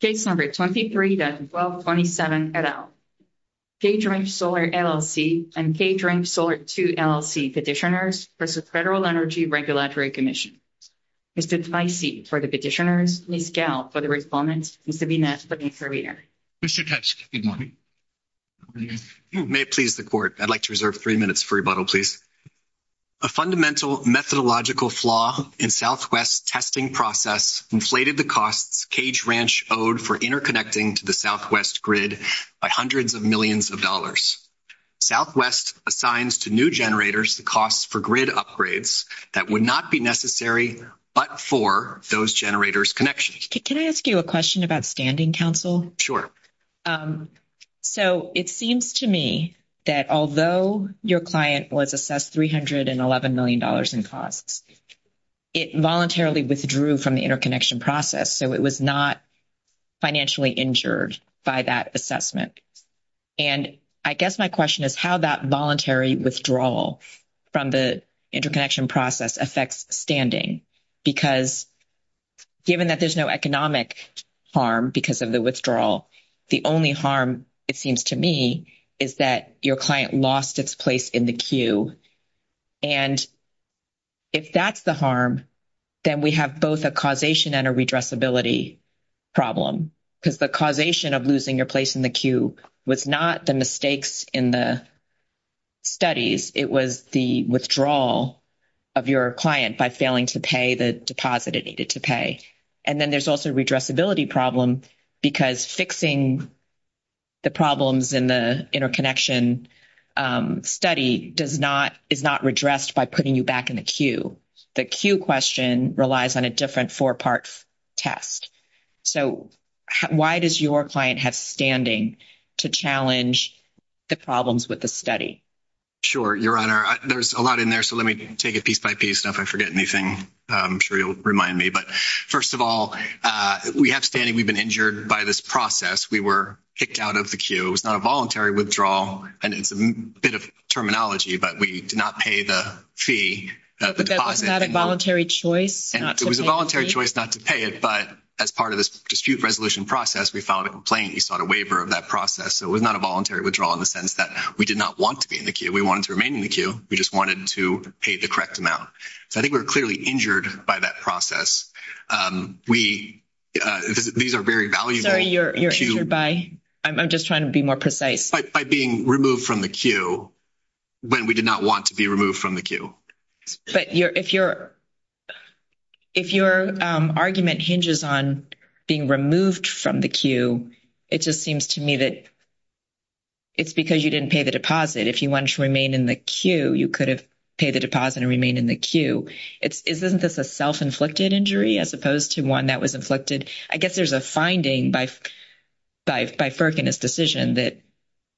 Case number 23-1227, et al. Cage Ranch Solar, LLC and Cage Ranch Solar II, LLC Petitioners versus Federal Energy Regulatory Commission. Mr. Ticey for the petitioners, Ms. Gell for the respondent, Mr. Vignette for the intervener. Mr. Teske, good morning. May it please the court. I'd like to reserve 3 minutes for rebuttal, please. A fundamental methodological flaw in Southwest's testing process inflated the costs Cage Ranch owed for interconnecting to the Southwest grid by hundreds of millions of dollars. Southwest assigns to new generators the costs for grid upgrades that would not be necessary but for those generators' connections. Can I ask you a question about standing counsel? Sure. So, it seems to me that although your client was assessed $311 million in costs, it voluntarily withdrew from the interconnection process. So, it was not financially injured by that assessment. And I guess my question is how that voluntary withdrawal from the interconnection process affects standing. Because given that there's no economic harm because of the withdrawal, the only harm it seems to me is that your client lost its place in the queue. And if that's the harm. Then we have both a causation and a redress ability problem because the causation of losing your place in the queue was not the mistakes in the. Studies it was the withdrawal. Of your client by failing to pay the deposit it needed to pay. And then there's also redress ability problem because fixing. The problems in the interconnection study does not is not redressed by putting you back in the queue. The queue question relies on a different 4 part. Test, so why does your client have standing to challenge the problems with the study? Sure, your honor, there's a lot in there, so let me take it piece by piece. And if I forget anything, I'm sure you'll remind me. But 1st of all, we have standing. We've been injured by this process. We were kicked out of the queue. It was not a voluntary withdrawal and it's a bit of terminology, but we did not pay the fee that was not a voluntary choice. And it was a voluntary choice not to pay it. But as part of this dispute resolution process, we filed a complaint. You sought a waiver of that process. So it was not a voluntary withdrawal in the sense that we did not want to be in the queue. We wanted to remain in the queue. We just wanted to pay the correct amount. So, I think we're clearly injured by that process. We, these are very valuable. You're you're by I'm just trying to be more precise by being removed from the queue. When we did not want to be removed from the queue, but if you're. If your argument hinges on being removed from the queue, it just seems to me that. It's because you didn't pay the deposit. If you want to remain in the queue, you could have pay the deposit and remain in the queue. It's isn't this a self inflicted injury as opposed to 1 that was inflicted? I guess there's a finding by. By by Ferk and his decision that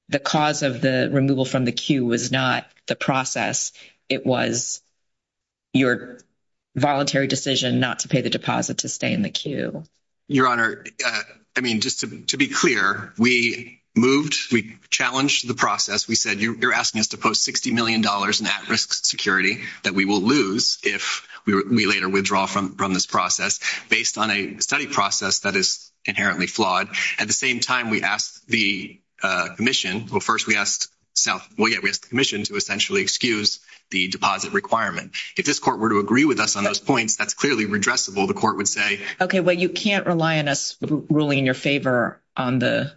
the cause of the removal from the queue was not the process. It was. Your voluntary decision not to pay the deposit to stay in the queue. Your honor, I mean, just to be clear, we moved, we challenged the process. We said, you're asking us to post 60Million dollars in at risk security that we will lose. If we later withdraw from from this process based on a study process. That is inherently flawed at the same time. We asked the commission. Well, 1st, we asked so, well, yeah, we have the commission to essentially excuse the deposit requirement. If this court were to agree with us on those points, that's clearly redressable. The court would say. Okay. Well, you can't rely on us ruling in your favor on the.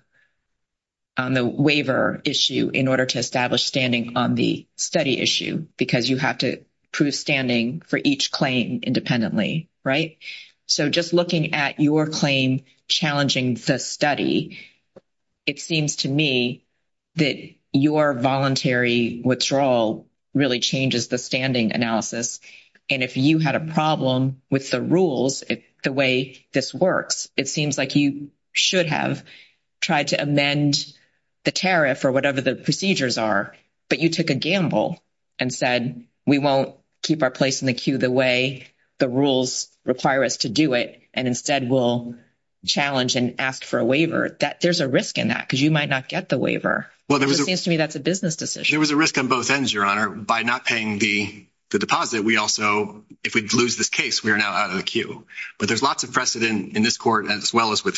On the waiver issue in order to establish standing on the study issue, because you have to prove standing for each claim independently. Right? So, just looking at your claim, challenging the study. It seems to me that your voluntary withdrawal really changes the standing analysis. And if you had a problem with the rules, the way this works, it seems like you should have. Tried to amend the tariff or whatever the procedures are, but you took a gamble and said, we won't keep our place in the queue the way the rules require us to do it. And instead, we'll challenge and ask for a waiver that there's a risk in that. Because you might not get the waiver to me. That's a business decision. There was a risk on both ends. Your honor, by not paying the deposit. We also, if we lose this case, we are now out of the queue, but there's lots of precedent in this court as well as with.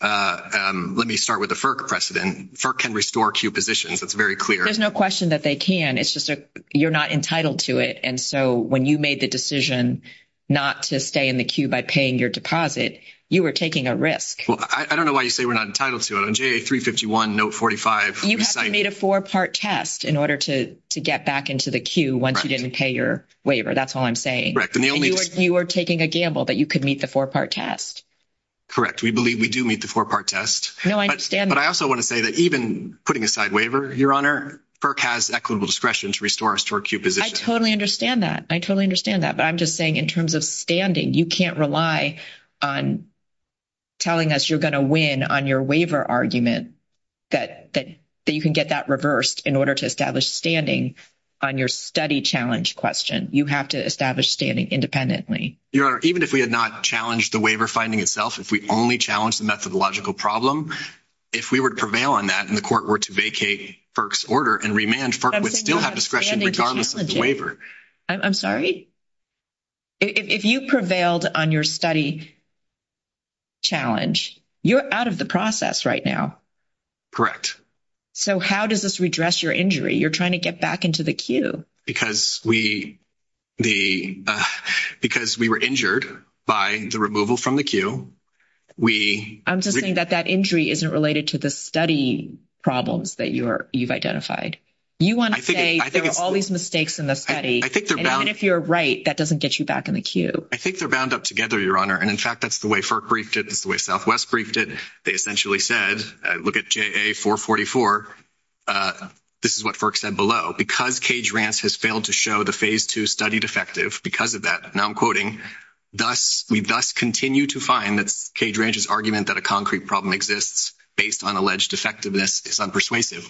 Uh, let me start with the precedent for can restore queue positions. That's very clear. There's no question that they can. It's just you're not entitled to it. And so when you made the decision. Not to stay in the queue by paying your deposit, you were taking a risk. I don't know why you say we're not entitled to it on 351 note. 45. you made a 4 part test in order to to get back into the queue. Once you didn't pay your waiver. That's all I'm saying. Correct. And the only you are taking a gamble that you could meet the 4 part test. Correct. We believe we do meet the 4 part test. No, I understand. But I also want to say that even putting a side waiver, your honor has equitable discretion to restore us to our queue position. I totally understand that. I totally understand that. But I'm just saying, in terms of standing, you can't rely on. Telling us you're going to win on your waiver argument. That that you can get that reversed in order to establish standing. On your study challenge question, you have to establish standing independently. Your honor, even if we had not challenged the waiver finding itself, if we only challenge the methodological problem. If we would prevail on that, and the court were to vacate folks order and remand would still have discretion regardless of the waiver. I'm sorry. If you prevailed on your study. Challenge you're out of the process right now. Correct so how does this redress your injury? You're trying to get back into the queue because we. The, because we were injured by the removal from the queue. We, I'm just saying that that injury isn't related to the study problems that you're you've identified. You want to say there are all these mistakes in the study. I think if you're right, that doesn't get you back in the queue. I think they're bound up together. Your honor. And in fact, that's the way for briefed. It's the way Southwest briefed it. They essentially said, look at 444. This is what said below because cage Rance has failed to show the phase 2 studied effective because of that. Now, I'm quoting. Thus, we thus continue to find that's cage ranges argument that a concrete problem exists based on alleged effectiveness is unpersuasive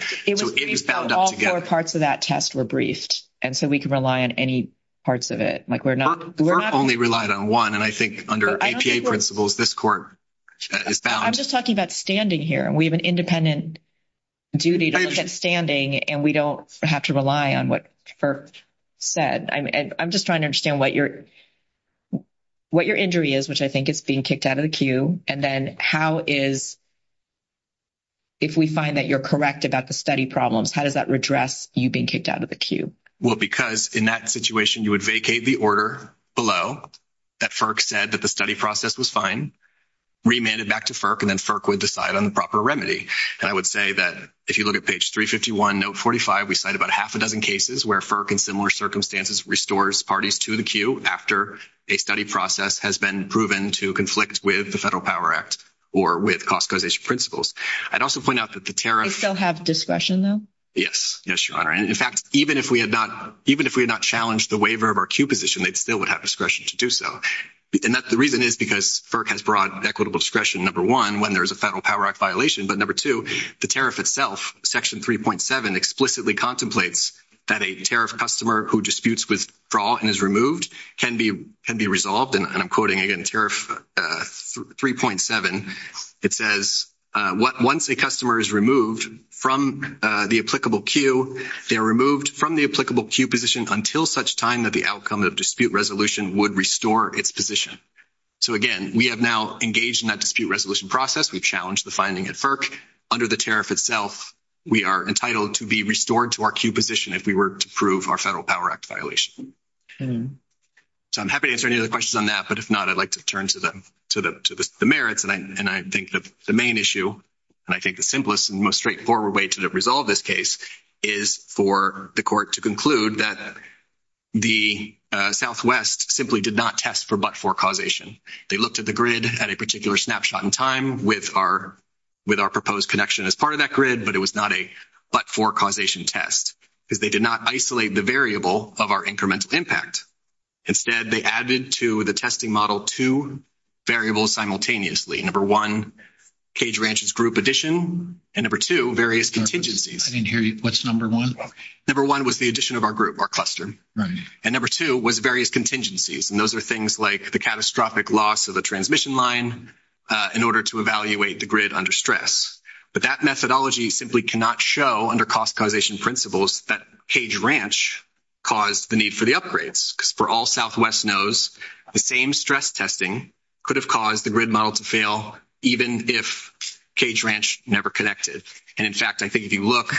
parts of that test were briefed. And so we can rely on any. Parts of it, like, we're not only relied on 1 and I think under principles, this court. I'm just talking about standing here and we have an independent. Duty to look at standing and we don't have to rely on what. Said, I'm just trying to understand what you're what your injury is, which I think it's being kicked out of the queue. And then how is. If we find that you're correct about the study problems, how does that redress you being kicked out of the queue? Well, because in that situation, you would vacate the order below. That said that the study process was fine. Remanded back to and then would decide on the proper remedy and I would say that if you look at page 351 note, 45, we cite about half a dozen cases where in similar circumstances, restores parties to the queue after a study process has been proven to conflict with the federal power act. Or with cost causation principles, I'd also point out that the tariffs still have discretion though. Yes. Yes. Your honor. And in fact, even if we had not, even if we had not challenged the waiver of our queue position, they'd still would have discretion to do. So, and that's the reason is because has brought equitable discretion. Number 1, when there's a federal power violation, but number 2, the tariff itself section 3.7, explicitly contemplates that a tariff customer who disputes with draw and is removed can be can be resolved. And I'm quoting again tariff 3.7. it says, once a customer is removed from the applicable queue, they are removed from the applicable queue position until such time that the outcome of dispute resolution would restore its position. So, again, we have now engaged in that dispute resolution process. We've challenged the finding at under the tariff itself. We are entitled to be restored to our queue position if we were to prove our federal power act violation. So, I'm happy to answer any other questions on that, but if not, I'd like to turn to them to the merits and I, and I think that the main issue, and I think the simplest and most straightforward way to resolve this case is for the court to conclude that. The Southwest simply did not test for, but for causation, they looked at the grid at a particular snapshot in time with our. With our proposed connection as part of that grid, but it was not a, but for causation test, because they did not isolate the variable of our incremental impact. Instead, they added to the testing model 2. Variables simultaneously number 1 cage ranchers group addition and number 2, various contingencies. I didn't hear you. What's number 1 number 1 was the addition of our group or cluster. Right? And number 2 was various contingencies. And those are things like the catastrophic loss of the transmission line. In order to evaluate the grid under stress, but that methodology simply cannot show under cost causation principles that cage ranch. Caused the need for the upgrades for all Southwest knows the same stress testing. Could have caused the grid model to fail, even if cage ranch never connected. And in fact, I think if you look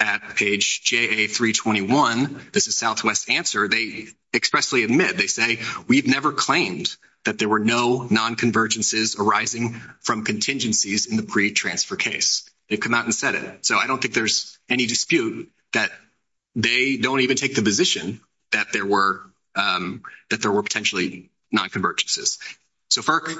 at page 321, this is Southwest answer. They expressly admit, they say, we've never claimed that there were no non convergences arising from contingencies in the pre transfer case. They come out and set it. So I don't think there's any dispute that. They don't even take the position that there were that there were potentially not convergences. Okay,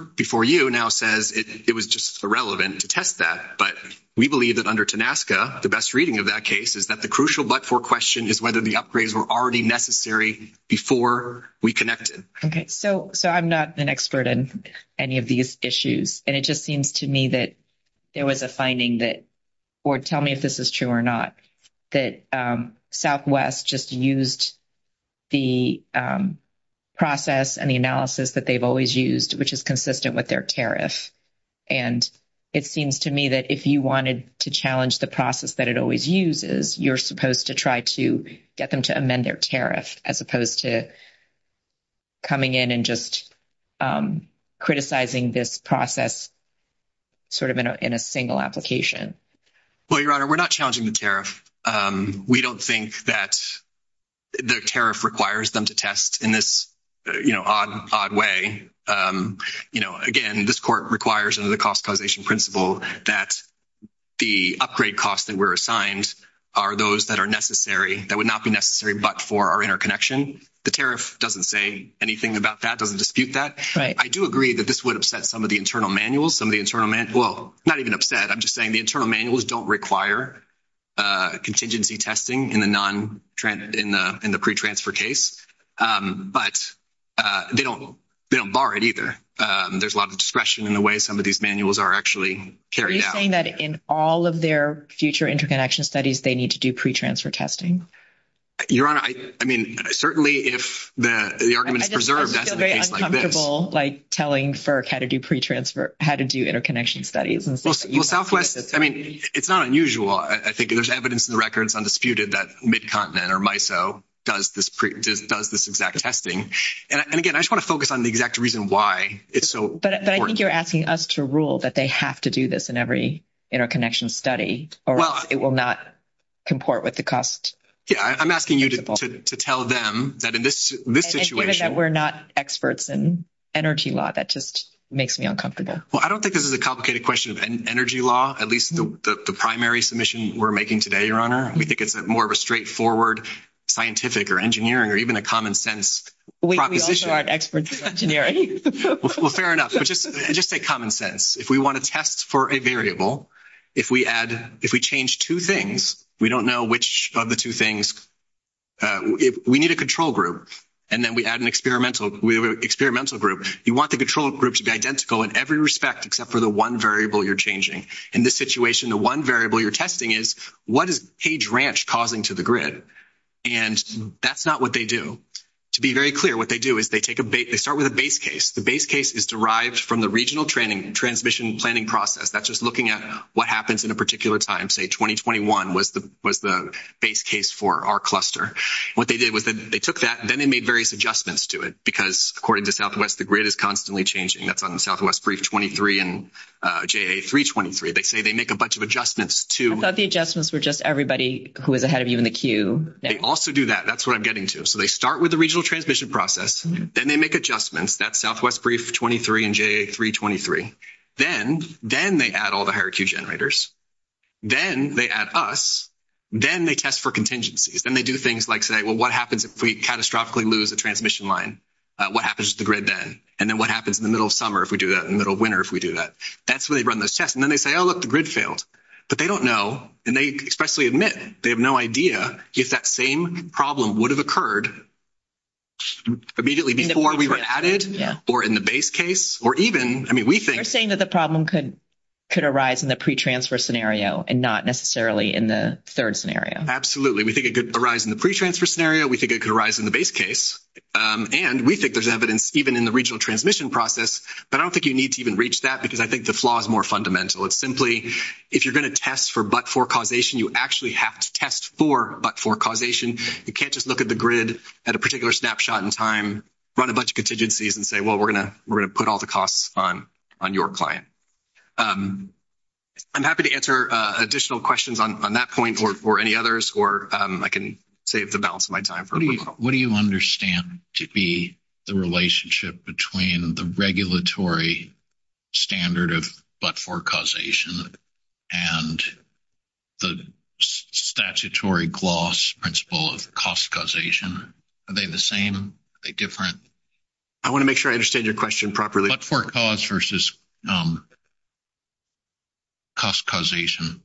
so so I'm not an expert in any of these issues, and it just seems to me that there was a finding that or tell me if this is true or not that Southwest just used. The process and the analysis that they've always used to determine whether or not there were non convergences arising from contingencies in the pre transfer case. Which is consistent with their tariff, and it seems to me that if you wanted to challenge the process that it always uses, you're supposed to try to get them to amend their tariff as opposed to. Coming in and just criticizing this process. Sort of in a, in a single application. Well, your honor, we're not challenging the tariff. We don't think that. The tariff requires them to test in this. You know, odd way again, this court requires under the cost causation principle that. The upgrade costs that were assigned are those that are necessary that would not be necessary, but for our interconnection, the tariff doesn't say anything about that doesn't dispute that. Right? I do agree that this would upset some of the internal manuals. Some of the internal man. Well, not even upset. I'm just saying the internal manuals don't require. Contingency testing in the non trend in the, in the pre transfer case, but. They don't, they don't bar it either. There's a lot of discretion in the way. Some of these manuals are actually carrying that in all of their future interconnection studies. They need to do pre transfer testing. Your honor, I mean, certainly, if the argument is preserved, that's very uncomfortable, like, telling for how to do pre transfer, how to do interconnection studies and Southwest. I mean, it's not unusual. I think there's evidence in the records undisputed that mid continent or my. So does this does this exact testing and again, I just want to focus on the exact reason why it's so, but I think you're asking us to rule that they have to do this in every interconnection study or it will not. Comport with the cost. Yeah, I'm asking you to tell them that in this, this situation, we're not experts in energy law. That just makes me uncomfortable. Well, I don't think this is a complicated question of energy law. At least the primary submission we're making today. Your honor. We think it's more of a straightforward scientific or engineering, or even a common sense. We also aren't experts in engineering. Well, fair enough. Just just say common sense. If we want to test for a variable. If we add, if we change 2 things, we don't know which of the 2 things. We need a control group, and then we add an experimental experimental group. You want the control group to be identical in every respect except for the 1 variable. You're changing in this situation. The 1 variable you're testing is what is page ranch causing to the grid. And that's not what they do to be very clear. What they do is they take a bait. They start with a base case. The base case is derived from the regional training transmission planning process. That's just looking at what happens in a particular time. Say 2021 was the was the base case for our cluster. What they did was that they took that then they made various adjustments to it, because according to Southwest, the grid is constantly changing. That's on the Southwest brief 23 and 323. they say they make a bunch of adjustments to the adjustments. We're just everybody who is ahead of you in the queue. They also do that. That's what I'm getting to. So they start with the regional transmission process. Then they make adjustments. That's Southwest brief 23 and 323. then then they add all the higher Q. generators. Then they add us, then they test for contingencies and they do things like say, well, what happens if we catastrophically lose a transmission line? What happens to the grid then and then what happens in the middle of summer? If we do that in the middle of winter, if we do that, that's when they run those tests and then they say, oh, look, the grid failed, but they don't know. And they especially admit they have no idea if that same problem would have occurred. Immediately before we were added or in the base case, or even, I mean, we think we're saying that the problem could could arise in the pre transfer scenario and not necessarily in the 3rd scenario. Absolutely. We think it could arise in the pre transfer scenario. We think it could arise in the base case and we think there's evidence, even in the regional transmission process, but I don't think you need to even reach that because I think the flaw is more fundamental. It's simply, if you're going to test for, but for causation, you actually have to test for, but for causation, you can't just look at the grid at a particular snapshot in time, run a bunch of contingencies and say, well, we're going to, we're going to put all the costs on on your client. I'm happy to answer additional questions on that point or or any others, or I can save the balance of my time. What do you understand to be the relationship between the regulatory. Standard of, but for causation. And the statutory gloss principle of cost causation. Are they the same different? I want to make sure I understand your question properly. But for cause versus. Cost causation,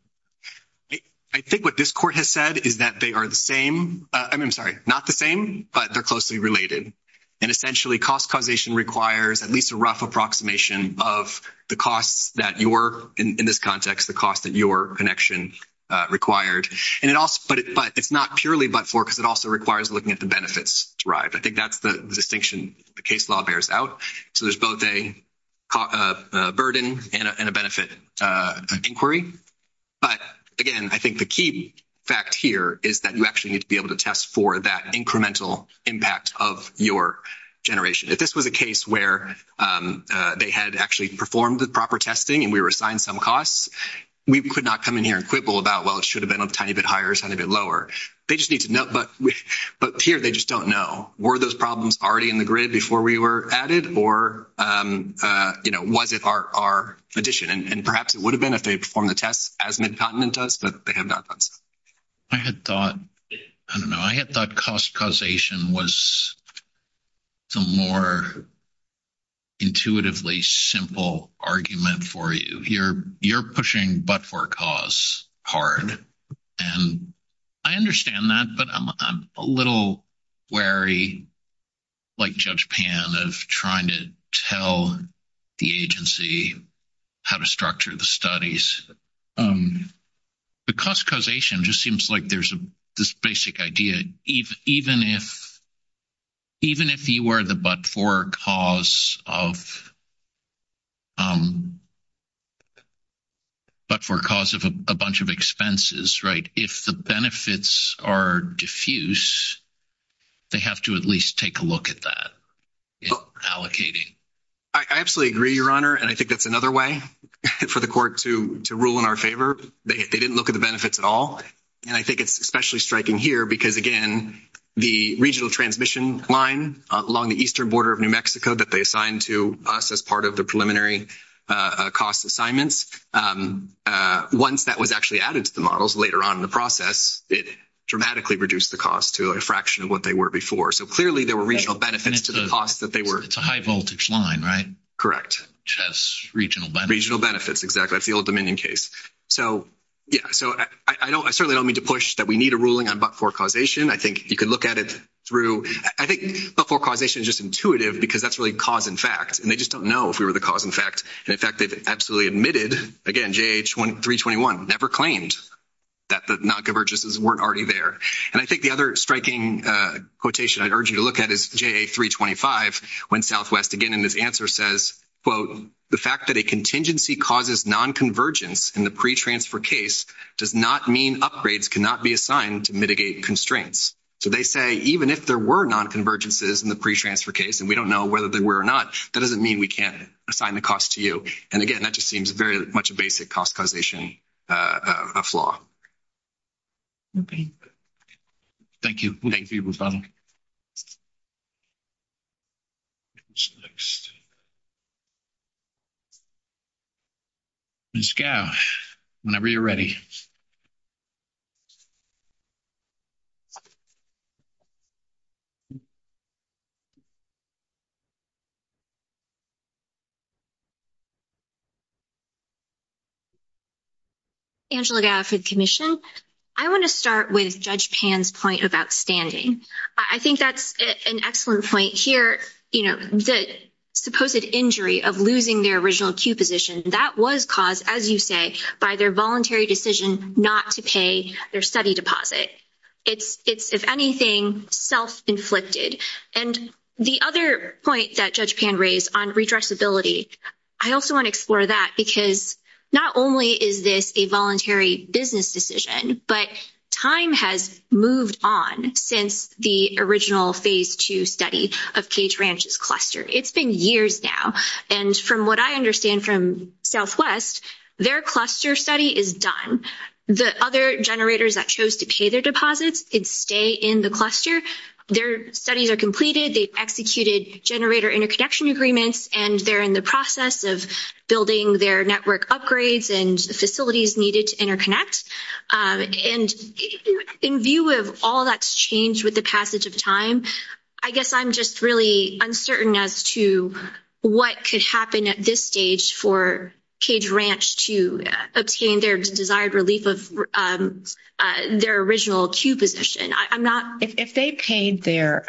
I think what this court has said is that they are the same. I'm sorry, not the same, but they're closely related. And essentially, cost causation requires at least a rough approximation of the costs that you're in this context, the cost that your connection required, and it also, but it's not purely, but for, because it also requires looking at the benefits derived. I think that's the distinction the case law bears out. So there's both a. Burden and a benefit inquiry. But again, I think the key fact here is that you actually need to be able to test for that incremental impact of your generation. If this was a case where they had actually performed the proper testing and we were assigned some costs. We could not come in here and quibble about, well, it should have been a tiny bit higher. It's going to be lower. They just need to know. But here, they just don't know. Were those problems already in the grid before we were added or was it our addition? And perhaps it would have been if they perform the tests as Midcontinent does, but they have not done so. I had thought, I don't know, I had thought cost causation was. The more intuitively simple argument for you, you're, you're pushing, but for cause hard and. I understand that, but I'm a little wary. Like, judge pan of trying to tell. The agency how to structure the studies. Because causation just seems like there's a basic idea even if. Even if you were the, but for cause of. But for cause of a bunch of expenses, right? If the benefits are diffuse. They have to at least take a look at that allocating. I absolutely agree your honor and I think that's another way for the court to rule in our favor. They didn't look at the benefits at all. And I think it's especially striking here because again, the regional transmission line along the eastern border of New Mexico that they assigned to us as part of the preliminary cost assignments once that was actually added to the models later on in the process, it dramatically reduce the cost to a fraction of what they were before. So, clearly, there were regional benefits to the cost that they were it's a high voltage line, right? Correct regional regional benefits. Exactly. That's the old dominion case. So. Yeah, so I don't, I certainly don't mean to push that. We need a ruling on, but for causation, I think you can look at it through. I think before causation is just intuitive because that's really cause. In fact, and they just don't know if we were the cause. In fact, and in fact, they've absolutely admitted again. J. H. 1, 321 never claimed. That the not convergences weren't already there, and I think the other striking quotation I urge you to look at is J. A. 325 when Southwest again, and this answer says, quote, the fact that a contingency causes non convergence in the pre transfer case does not mean upgrades cannot be assigned to mitigate constraints. So, they say, even if there were non convergences in the pre transfer case, and we don't know whether they were or not, that doesn't mean we can't assign the cost to you. And again, that just seems very much a basic cost causation a flaw. Okay, thank you. Next, whenever you're ready. Angela for the commission. I want to start with judge pan's point about standing. I think that's an excellent point here. You know, the supposed injury of losing their original Q position that was caused, as you say, by their voluntary decision not to pay their study deposit it's, it's, if anything, self inflicted and the other point that judge pan raise on redress ability. I also want to explore that, because not only is this a voluntary business decision, but time has moved on since the original phase 2 study of cage ranch's cluster. It's been years now and from what I understand from Southwest, their cluster study is done the other generators that chose to pay their deposits and stay in the cluster. Their studies are completed, they executed generator interconnection agreements, and they're in the process of building their network upgrades and facilities needed to interconnect and in view of all that's changed with the passage of time. I guess I'm just really uncertain as to what could happen at this stage for cage ranch to obtain their desired relief of their original Q position. I'm not if they paid their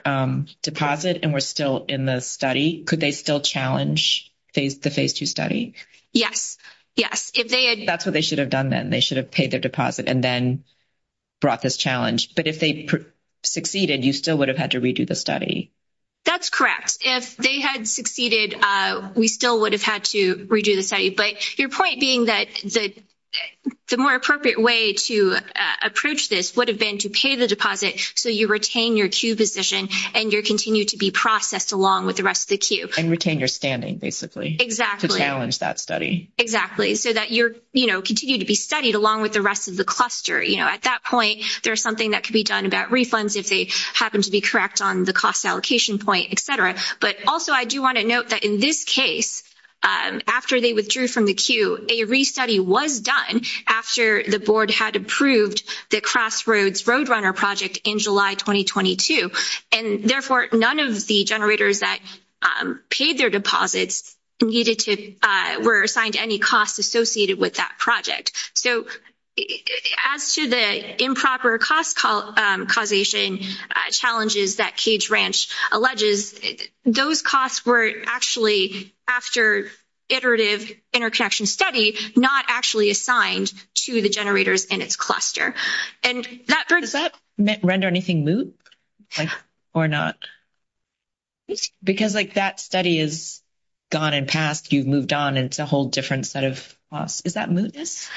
deposit and we're still in the study, could they still challenge the phase 2 study? Yes. Yes. If they had that's what they should have done. Then they should have paid their deposit and then brought this challenge. But if they succeeded, you still would have had to redo the study. That's correct. If they had succeeded, we still would have had to redo the study, but your point being that the more appropriate way to approach this would have been to pay the deposit. So you retain your Q position and your continue to be processed along with the rest of the queue and retain your standing. Basically exactly. Challenge that study exactly. So that you're continue to be studied along with the rest of the cluster. At that point, there's something that could be done about refunds. If they happen to be correct on the cost allocation point, et cetera. But also, I do want to note that in this case, after they withdrew from the queue, a restudy was done after the board had approved the crossroads road runner project in July 2022 and therefore, none of the generators that. Paid their deposits needed to were assigned any costs associated with that project. So. As to the improper cost call causation challenges that cage ranch alleges those costs were actually after. Iterative interconnection study, not actually assigned to the generators in its cluster and that does that render anything loop. Or not, because that study is. Gone and passed, you've moved on and it's a whole different set of costs. Is that mootness?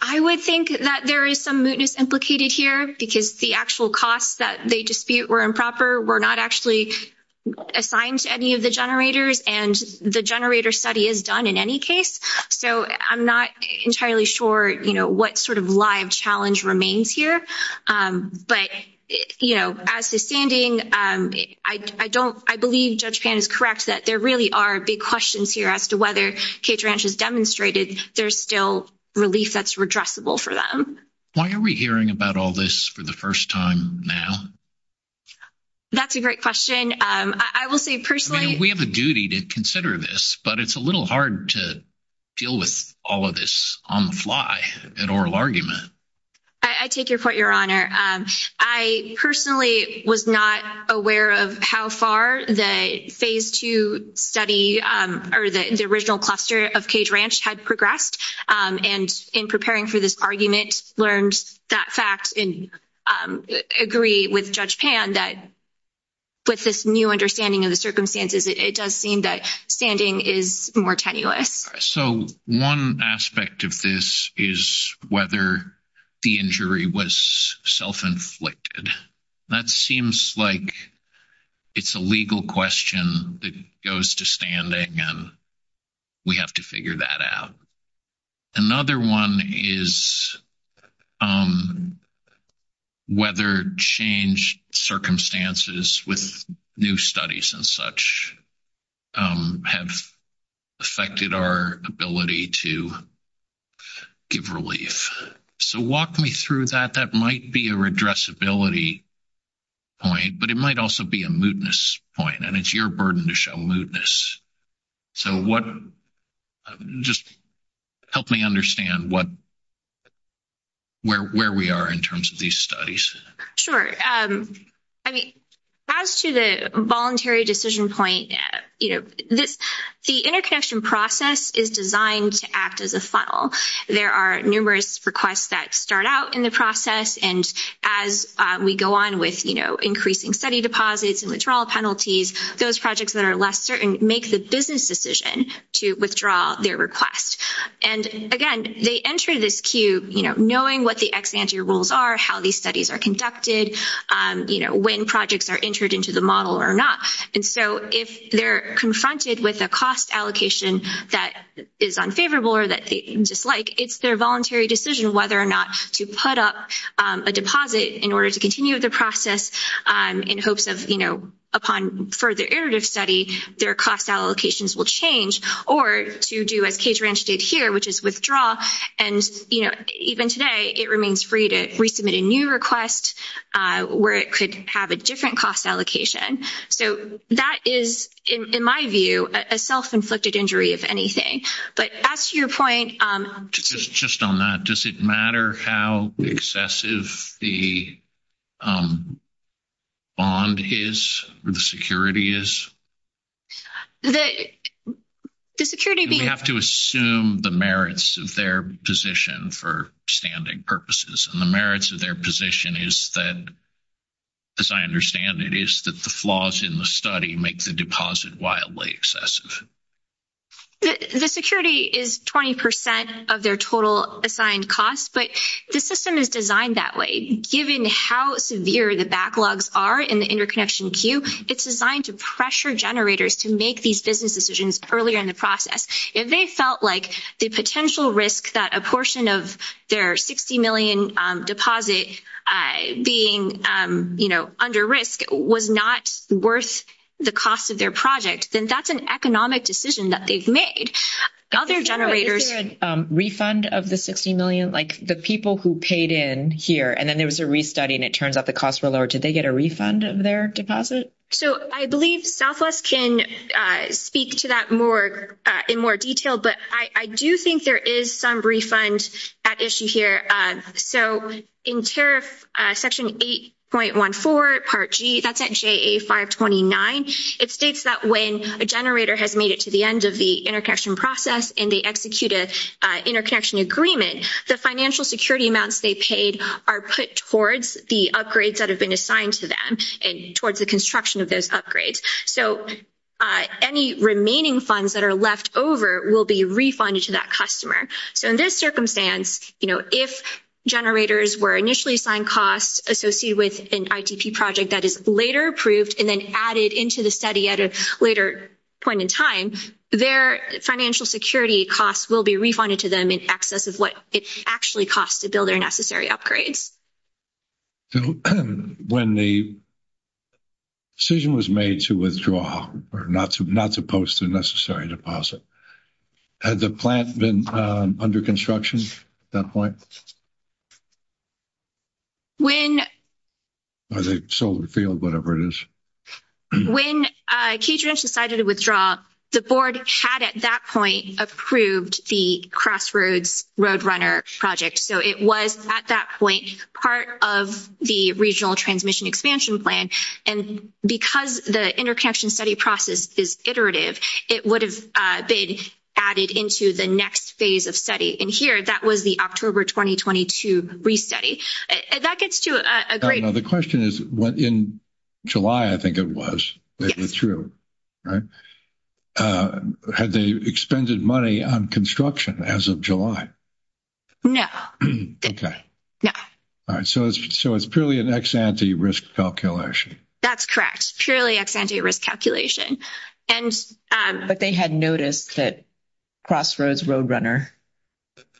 I would think that there is some mootness implicated here because the actual costs that they dispute were improper. We're not actually. Assigned to any of the generators and the generator study is done in any case. So I'm not entirely sure what sort of live challenge remains here. But, you know, as to standing, I don't, I believe judge pan is correct that there really are big questions here as to whether cage ranch has demonstrated. There's still relief. That's redressable for them. Why are we hearing about all this for the 1st time now? That's a great question. I will say personally, we have a duty to consider this, but it's a little hard to. Deal with all of this on the fly at oral argument. I take your point your honor. I personally was not aware of how far the phase 2 study, or the original cluster of cage ranch had progressed and in preparing for this argument, learned that fact and agree with judge pan that. With this new understanding of the circumstances, it does seem that standing is more tenuous. So 1 aspect of this is whether the injury was self inflicted. That seems like it's a legal question that goes to standing and. We have to figure that out another 1 is. Um, whether change circumstances with new studies and such. Have affected our ability to. Give relief so walk me through that. That might be a redress ability. Point, but it might also be a mootness point and it's your burden to show mootness. So, what just help me understand what. Where where we are in terms of these studies. Sure. I mean, as to the voluntary decision point, this, the interconnection process is designed to act as a funnel. There are numerous requests that start out in the process. And as we go on with increasing study deposits and withdrawal penalties, those projects that are less certain, make the business decision to withdraw their request. And again, they enter this queue, knowing what the ex-ante rules are, how these studies are conducted, when projects are entered into the model or not. And so, if they're confronted with a cost allocation, that is unfavorable, or that they dislike, it's their voluntary decision, whether or not to put up a deposit in order to continue the process in hopes of, you know, upon further iterative study, their cost allocations will change or to do as cage ranch did here, which is withdraw and, you know, even today, it remains free to resubmit a new request where it could have a different cost allocation. So, that is, in my view, a self inflicted injury of anything, but as to your point, just on that, does it matter how excessive the. Bond is, or the security is? The security, we have to assume the merits of their position for standing purposes and the merits of their position is that. As I understand it is that the flaws in the study make the deposit wildly excessive. The security is 20% of their total assigned costs, but the system is designed that way, given how severe the backlogs are in the interconnection queue. It's designed to pressure generators to make these business decisions earlier in the process. If they felt like the potential risk that a portion of their 60M deposit being under risk was not worth. The cost of their project, then that's an economic decision that they've made other generators refund of the 60M, like, the people who paid in here, and then there was a restudy and it turns out the cost were lowered. Did they get a refund of their deposit? So, I believe Southwest can speak to that more in more detail, but I do think there is some refund at issue here. So, in tariff section 8.14 part G, that's at JA 529. it states that when a generator has made it to the end of the interconnection process, and they execute a interconnection agreement, the financial security amounts they paid are put towards the upgrades that have been assigned to them and towards the construction of those upgrades. So, any remaining funds that are left over will be refunded to that customer. So, in this circumstance, if generators were initially assigned costs associated with an ITP project that is later approved, and then added into the study at a later point in time, their financial security costs will be refunded to them in excess of what it actually costs to build their necessary upgrades. When the decision was made to withdraw or not to not to post a necessary deposit. Had the plant been under construction at that point? When the solar field, whatever it is. When Kedron decided to withdraw, the board had at that point approved the Crossroads Roadrunner project. So it was at that point part of the regional transmission expansion plan and because the interconnection study process is iterative, it would have been added into the next phase of study. And here, that was the October 2022 re-study. That gets to a great point. The question is, in July, I think it was, if it's true, right, had they expended money on construction as of July? No. Okay. So it's purely an ex-ante risk calculation. That's correct. Purely ex-ante risk calculation. But they had noticed that Crossroads Roadrunner,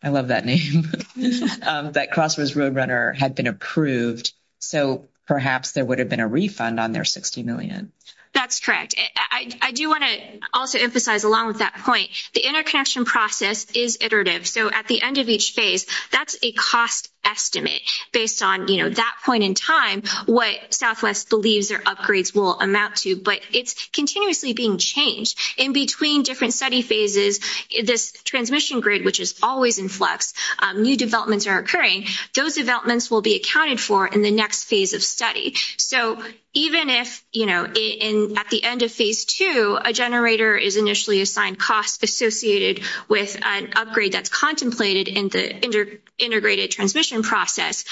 I love that name, that Crossroads Roadrunner had been approved, so perhaps there would have been a refund on their 60 million. That's correct. I do want to also emphasize along with that point, the interconnection process is iterative. So, at the end of each phase, that's a cost estimate based on that point in time, what Southwest believes their upgrades will amount to, but it's continuously being changed in between different study phases. This transmission grid, which is always in flux, new developments are occurring. Those developments will be accounted for in the next phase of study. So, even if at the end of phase 2, a generator is initially assigned cost associated with an upgrade that's contemplated in the integrated transmission process,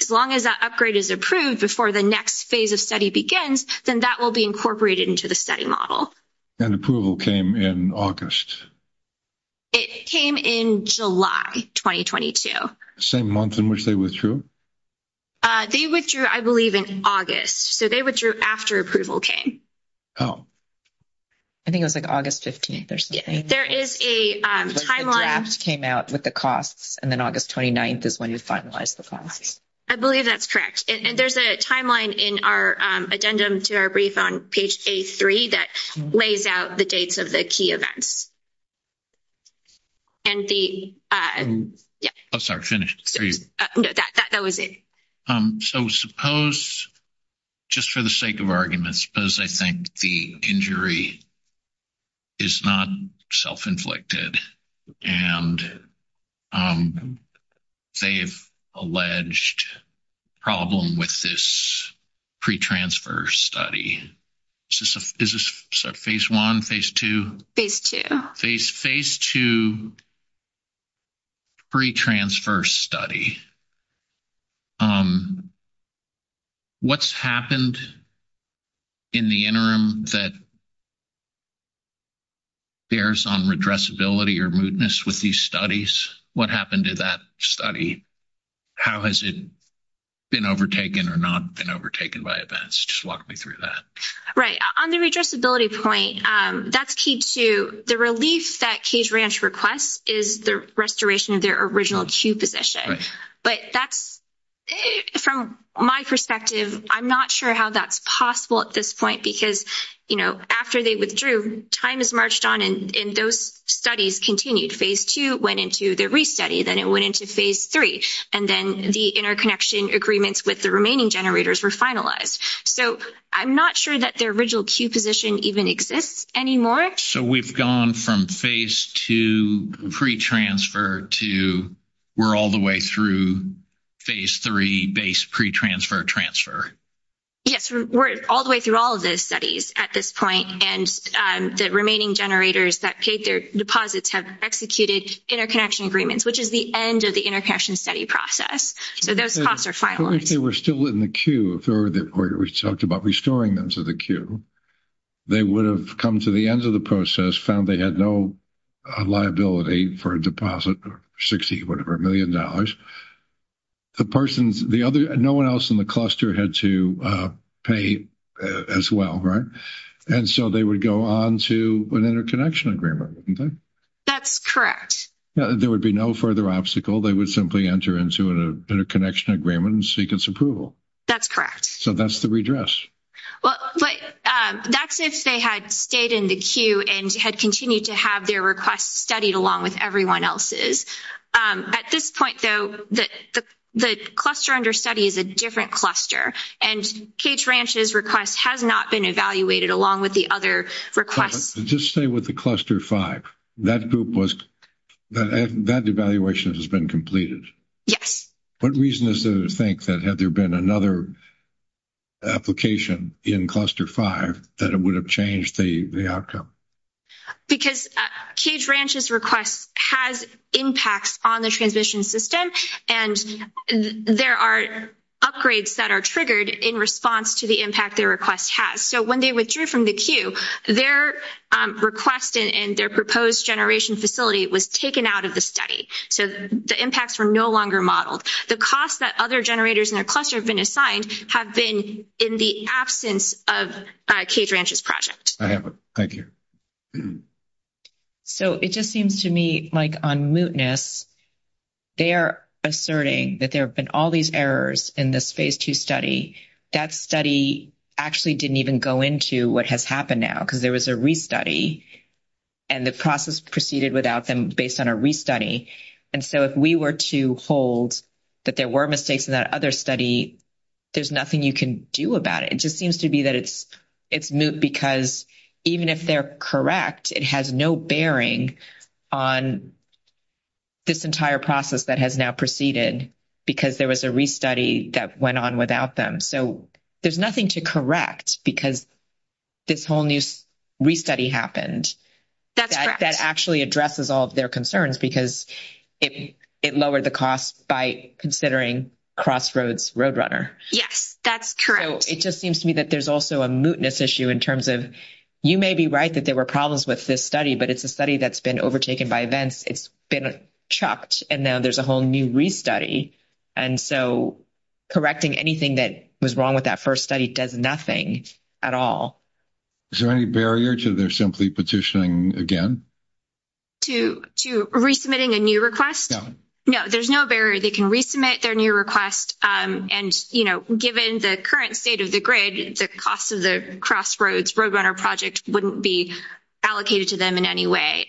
as long as that upgrade is approved before the next phase of study begins, then that will be incorporated into the study model. And approval came in August. It came in July 2022. Same month in which they withdrew? They withdrew, I believe, in August, so they withdrew after approval came. Oh, I think it was like, August 15th or something. There is a timeline. The draft came out with the costs and then August 29th is when you finalize the costs. I believe that's correct. And there's a timeline in our addendum to our brief on page A3 that lays out the dates of the key events. And the, yeah. Oh, sorry. Finished. That was it. So, suppose just for the sake of arguments, because I think the injury. Is not self inflicted and. They've alleged. Problem with this pre-transfer study. Is this phase 1, phase 2? Phase 2. Pre-transfer study. What's happened in the interim that. Bears on redressability or mootness with these studies. What happened to that study? How has it been overtaken or not been overtaken by events? Just walk me through that. Right? On the redressability point, that's key to the relief that cage ranch requests is the restoration of their original queue position. But that's from my perspective, I'm not sure how that's possible at this point, because, you know, after they withdrew time is marched on and those studies continued phase 2 went into the restudy. Then it went into phase 3, and then the interconnection agreements with the remaining generators were finalized. So I'm not sure that their original queue position even exists anymore. So, we've gone from phase 2 pre-transfer to. We're all the way through phase 3 base pre-transfer transfer. Yes, we're all the way through all of those studies at this point, and the remaining generators that paid their deposits have executed interconnection agreements, which is the end of the interconnection study process. So those costs are final. If they were still in the queue, or we talked about restoring them to the queue, they would have come to the end of the process found. They had no liability for a deposit or 60, whatever a million dollars. The person's the other no one else in the cluster had to pay as well. Right? And so they would go on to an interconnection agreement. That's correct. There would be no further obstacle. They would simply enter into an interconnection agreement and seek its approval. That's correct. So that's the redress. Well, but that's if they had stayed in the queue and had continued to have their requests studied along with everyone else's at this point, though, that the cluster under study is a different cluster and cage ranch's request has not been evaluated along with the other requests. Just stay with the cluster 5. that group was that that evaluation has been completed. Yes, what reason is to think that had there been another. Application in cluster 5 that it would have changed the outcome because cage ranch's request has impacts on the transmission system and there are upgrades that are triggered in response to the impact their request has. So, when they withdrew from the queue, their request, and their proposed generation facility was taken out of the study. So, the impacts are no longer modeled. The costs that other generators in their cluster have been assigned have been in the absence of cage ranch's project. I have a, thank you. So, it just seems to me, like, on muteness. They are asserting that there have been all these errors in this phase 2 study. That study actually didn't even go into what has happened now because there was a restudy. And the process proceeded without them based on a restudy. And so if we were to hold. That there were mistakes in that other study, there's nothing you can do about it. It just seems to be that it's, it's mute because even if they're correct, it has no bearing on. This entire process that has now proceeded. Because there was a restudy that went on without them, so there's nothing to correct because. This whole new restudy happened that actually addresses all of their concerns because it, it lowered the cost by considering crossroads road runner. Yes, that's true. It just seems to me that there's also a muteness issue in terms of, you may be right that there were problems with this study, but it's a study that's been overtaken by events. It's been chopped and now there's a whole new restudy. And so correcting anything that was wrong with that 1st study does nothing at all. Is there any barrier to their simply petitioning again? To to resubmitting a new request. No, there's no barrier. They can resubmit their new request and given the current state of the grid, the cost of the crossroads road runner project wouldn't be. Allocated to them in any way,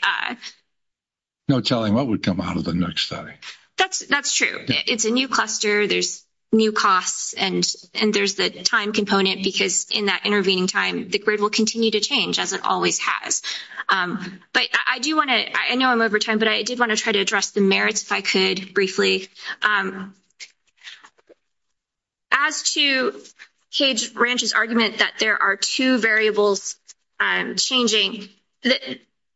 no telling what would come out of the next study. That's that's true. It's a new cluster. There's. New costs and and there's the time component, because in that intervening time, the grid will continue to change as it always has. But I do want to I know I'm over time, but I did want to try to address the merits. If I could briefly. As to cage ranch's argument that there are 2 variables changing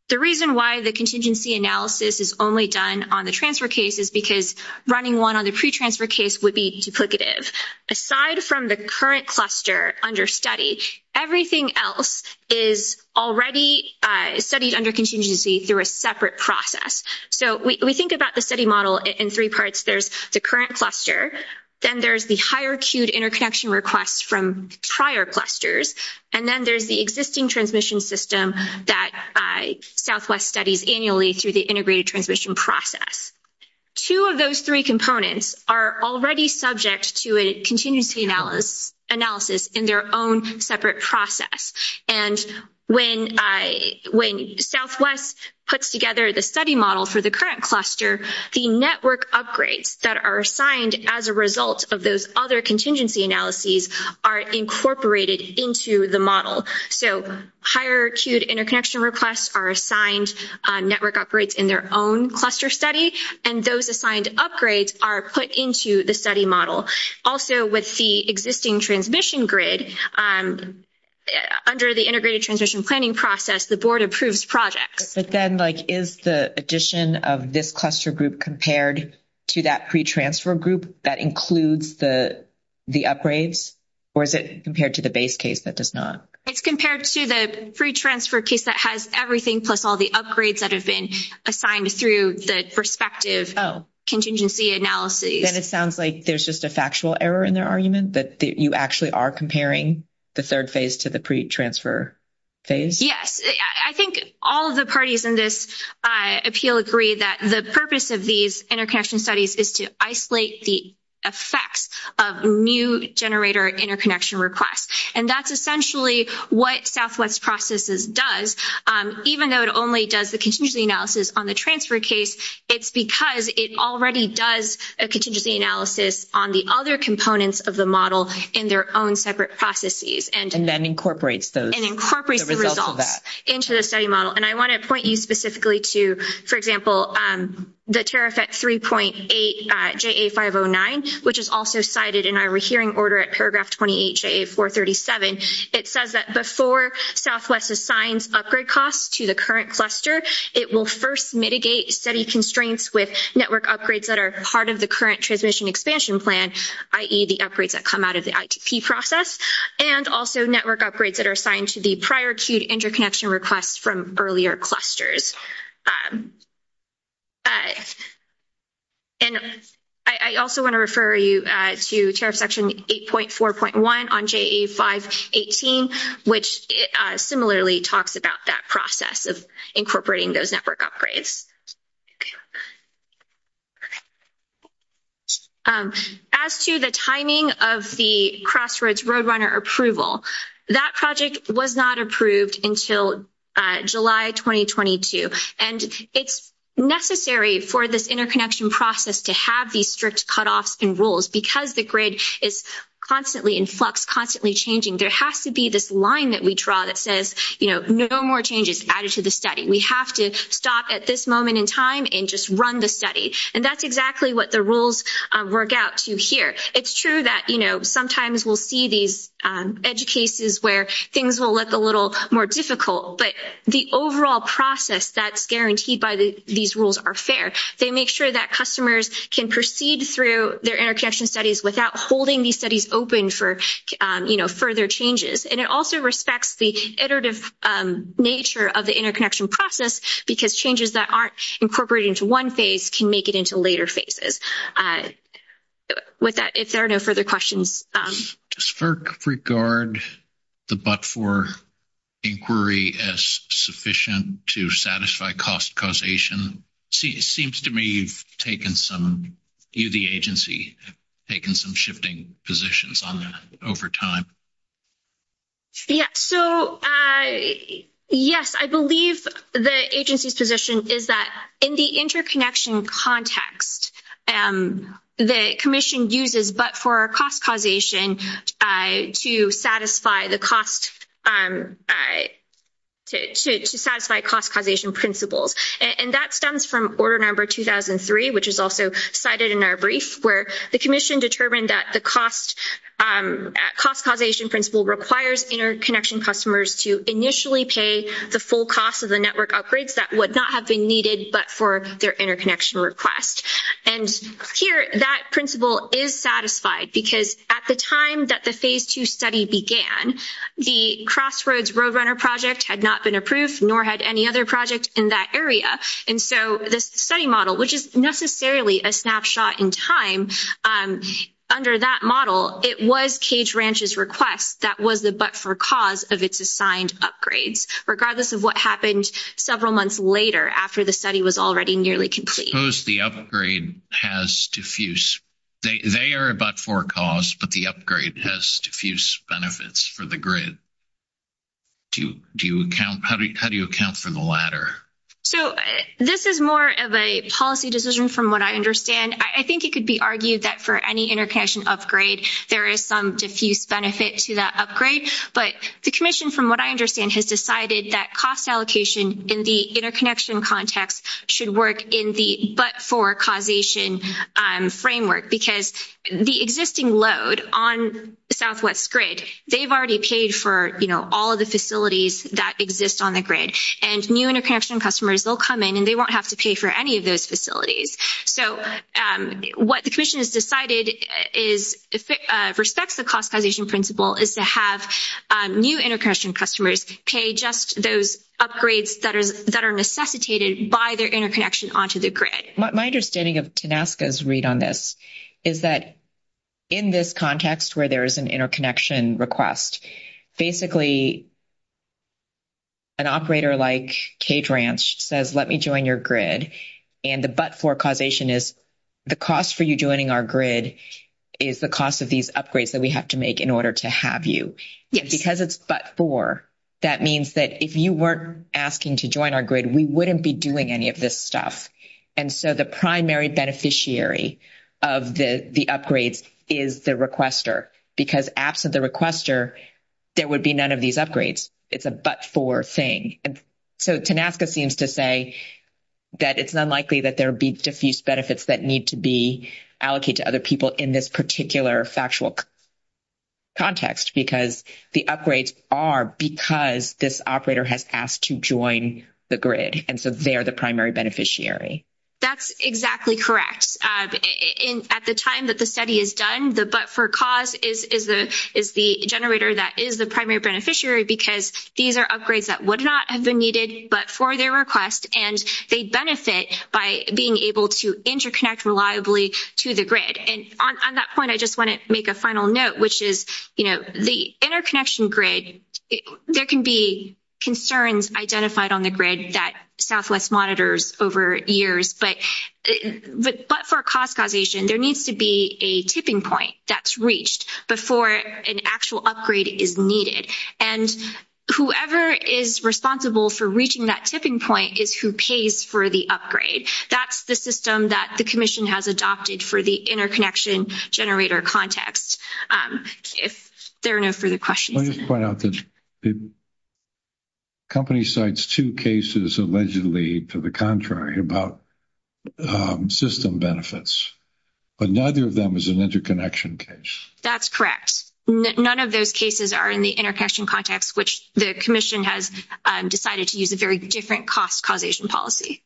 the reason why the contingency analysis is only done on the transfer cases, because running 1 on the pre transfer case would be duplicative aside from the current cluster under study everything else is already studied under contingency through a separate process. So, we think about the study model in 3 parts. There's the current cluster. Then there's the higher queued interconnection requests from prior clusters. And then there's the existing transmission system that Southwest studies annually through the integrated transmission process. 2 of those 3 components are already subject to a contingency analysis analysis in their own separate process. And when I, when Southwest puts together the study model for the current cluster, the network upgrades that are assigned as a result of those other contingency analyses are incorporated into the model. So, higher queued interconnection requests are assigned network upgrades in their own cluster study. And those assigned upgrades are put into the study model. Also, with the existing transmission grid. Under the integrated transmission planning process, the board approves projects, but then, like, is the addition of this cluster group compared to that pre transfer group that includes the. The upgrades, or is it compared to the base case that does not it's compared to the free transfer case that has everything plus all the upgrades that have been assigned through the perspective. Oh, contingency analysis. Then it sounds like there's just a factual error in their argument that you actually are comparing the 3rd phase to the transfer phase. Yes, I think all of the parties in this appeal agree that the purpose of these interconnection studies is to isolate the. Effects of new generator interconnection requests, and that's essentially what Southwest processes does, even though it only does the contingency analysis on the transfer case. It's because it already does a contingency analysis on the other components of the model in their own separate processes, and then incorporates those and incorporates the results into the study model. And I want to point you specifically to, for example, the tariff at 3.8, which is also cited in our hearing order at paragraph 28, it says that before Southwest assigns upgrade costs to the current cluster, it will 1st mitigate steady constraints with network upgrades that are part of the current transmission expansion plan, i.e. the upgrades that come out of the ITP process and also network upgrades that are assigned to the prior queued interconnection requests from earlier clusters. And I also want to refer you to tariff section 8.4.1 on 518, which similarly talks about that process of incorporating those network upgrades. As to the timing of the crossroads Roadrunner approval, that project was not approved until July 2022 and it's necessary for this interconnection process to have these strict cutoffs and rules because the grid is constantly in flux, constantly changing. There has to be this line that we draw that says, no more changes added to the study. We have to stop at this moment in time and just run the study. And that's exactly what the rules work out to here. It's true that sometimes we'll see these edge cases where things will look a little more difficult, but the overall process that's guaranteed by these rules are fair. They make sure that customers can proceed through their interconnection studies without holding these studies open for further changes. And it also respects the iterative nature of the interconnection process, because changes that aren't incorporated into 1 phase can make it into later phases. With that, if there are no further questions, does FERC regard the but-for inquiry as sufficient to satisfy cost causation? It seems to me you've taken some, you, the agency, taken some shifting positions on that over time. Yeah, so, yes, I believe the agency's position is that in the interconnection context, the commission uses but-for cost causation to satisfy the cost, to satisfy cost causation principles. And that stems from order number 2003, which is also cited in our brief, where the commission determined that the cost causation principle requires interconnection customers to initially pay the full cost of the network upgrades that would not have been needed, but for their interconnection request. And here, that principle is satisfied, because at the time that the Phase 2 study began, the Crossroads Roadrunner project had not been approved, nor had any other project in that area. And so this study model, which is necessarily a snapshot in time, under that model, it was Cage Ranch's request that was the but-for cause of its assigned upgrades, regardless of what happened several months later, after the study was already nearly complete. Suppose the upgrade has diffuse, they are a but-for cause, but the upgrade has diffuse benefits for the grid. Do you account, how do you account for the latter? So, this is more of a policy decision from what I understand. I think it could be argued that for any interconnection upgrade, there is some diffuse benefit to that upgrade. But the commission, from what I understand, has decided that cost allocation in the interconnection context should work in the but-for causation framework, because the existing load on Southwest Grid, they've already paid for all of the facilities that exist on the grid. And new interconnection customers will come in, and they won't have to pay for any of those facilities. So, what the commission has decided is, if it respects the cost causation principle, is to have new interconnection customers pay just those upgrades that are necessitated by their interconnection onto the grid. My understanding of TANASCA's read on this is that in this context, where there is an interconnection request, basically. An operator like Cage Ranch says, let me join your grid and the but-for causation is. The cost for you joining our grid is the cost of these upgrades that we have to make in order to have you because it's but-for. That means that if you weren't asking to join our grid, we wouldn't be doing any of this stuff. And so the primary beneficiary of the upgrades is the requester because absent the requester. There would be none of these upgrades. It's a but-for thing. So, TANASCA seems to say that it's unlikely that there would be diffuse benefits that need to be allocated to other people in this particular factual. Context, because the upgrades are because this operator has asked to join the grid and so they are the primary beneficiary. That's exactly correct. At the time that the study is done, the but-for cause is the generator that is the primary beneficiary, because these are upgrades that would not have been needed, but for their request, and they benefit by being able to interconnect reliably to the grid. And on that point, I just want to make a final note, which is the interconnection grid, there can be concerns identified on the grid that Southwest monitors over years. But for cost causation, there needs to be a tipping point that's reached before an actual upgrade is needed. And whoever is responsible for reaching that tipping point is who pays for the upgrade. That's the system that the commission has adopted for the interconnection generator context. If there are no further questions. I just want to point out that the company cites 2 cases allegedly to the contrary about system benefits, but neither of them is an interconnection case. That's correct. None of those cases are in the interconnection context, which the commission has decided to use a very different cost causation policy.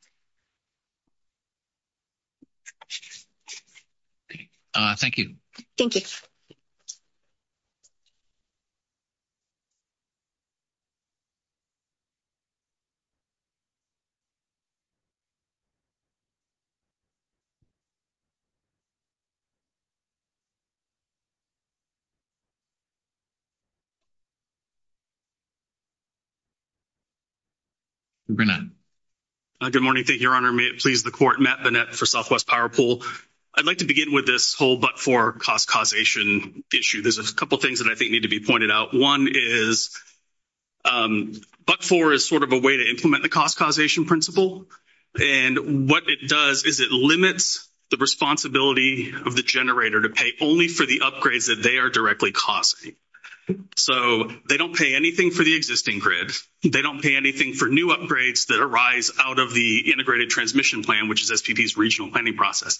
Thank you. Thank you. Good morning. Thank you, your honor. May it please the court. Matt Bennett for Southwest PowerPool. I'd like to begin with this whole, but for cost causation issue, there's a couple of things that I think need to be pointed out. 1 is. Um, but for is sort of a way to implement the cost causation principle. And what it does is it limits the responsibility of the generator to pay only for the upgrades that they are directly causing. So, they don't pay anything for the existing grid. They don't pay anything for new upgrades that arise out of the integrated transmission plan, which is regional planning process.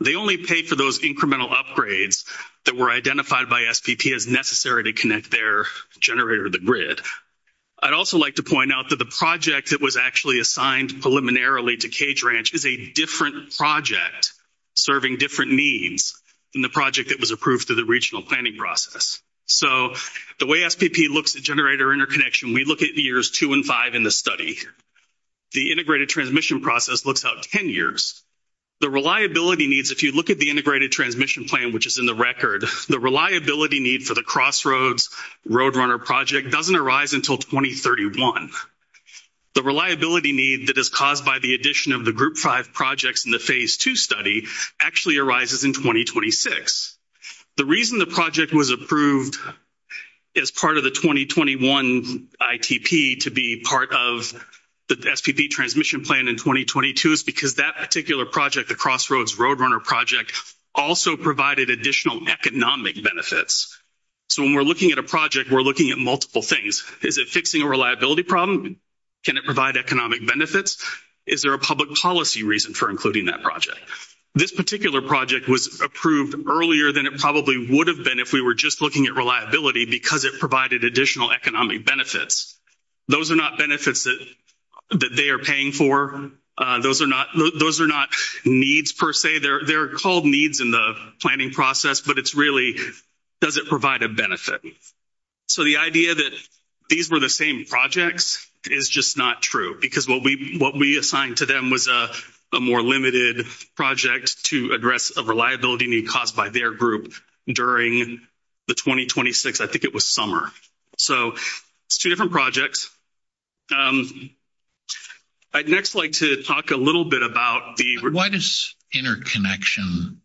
They only pay for those incremental upgrades that were identified by SPP as necessary to connect their generator to the grid. I'd also like to point out that the project that was actually assigned preliminarily to Cage Ranch is a different project serving different needs than the project that was approved through the regional planning process. So, the way SPP looks at generator interconnection, we look at years 2 and 5 in the study. The integrated transmission process looks out 10 years. The reliability needs, if you look at the integrated transmission plan, which is in the record, the reliability need for the crossroads road runner project doesn't arise until 2031. The reliability need that is caused by the addition of the group 5 projects in the phase 2 study actually arises in 2026. The reason the project was approved as part of the 2021 ITP to be part of the SPP transmission plan in 2022 is because that particular project, the crossroads road runner project, also provided additional economic benefits. So, when we're looking at a project, we're looking at multiple things. Is it fixing a reliability problem? Can it provide economic benefits? Is there a public policy reason for including that project? This particular project was approved earlier than it probably would have been if we were just looking at reliability, because it provided additional economic benefits. Those are not benefits that they are paying for. Those are not needs per se. They're called needs in the planning process, but it's really, does it provide a benefit? So, the idea that these were the same projects is just not true, because what we assigned to them was a more limited project to address a reliability need caused by their group during the 2026, I think it was summer. So, it's 2 different projects. I'd next like to talk a little bit about the, why does interconnection.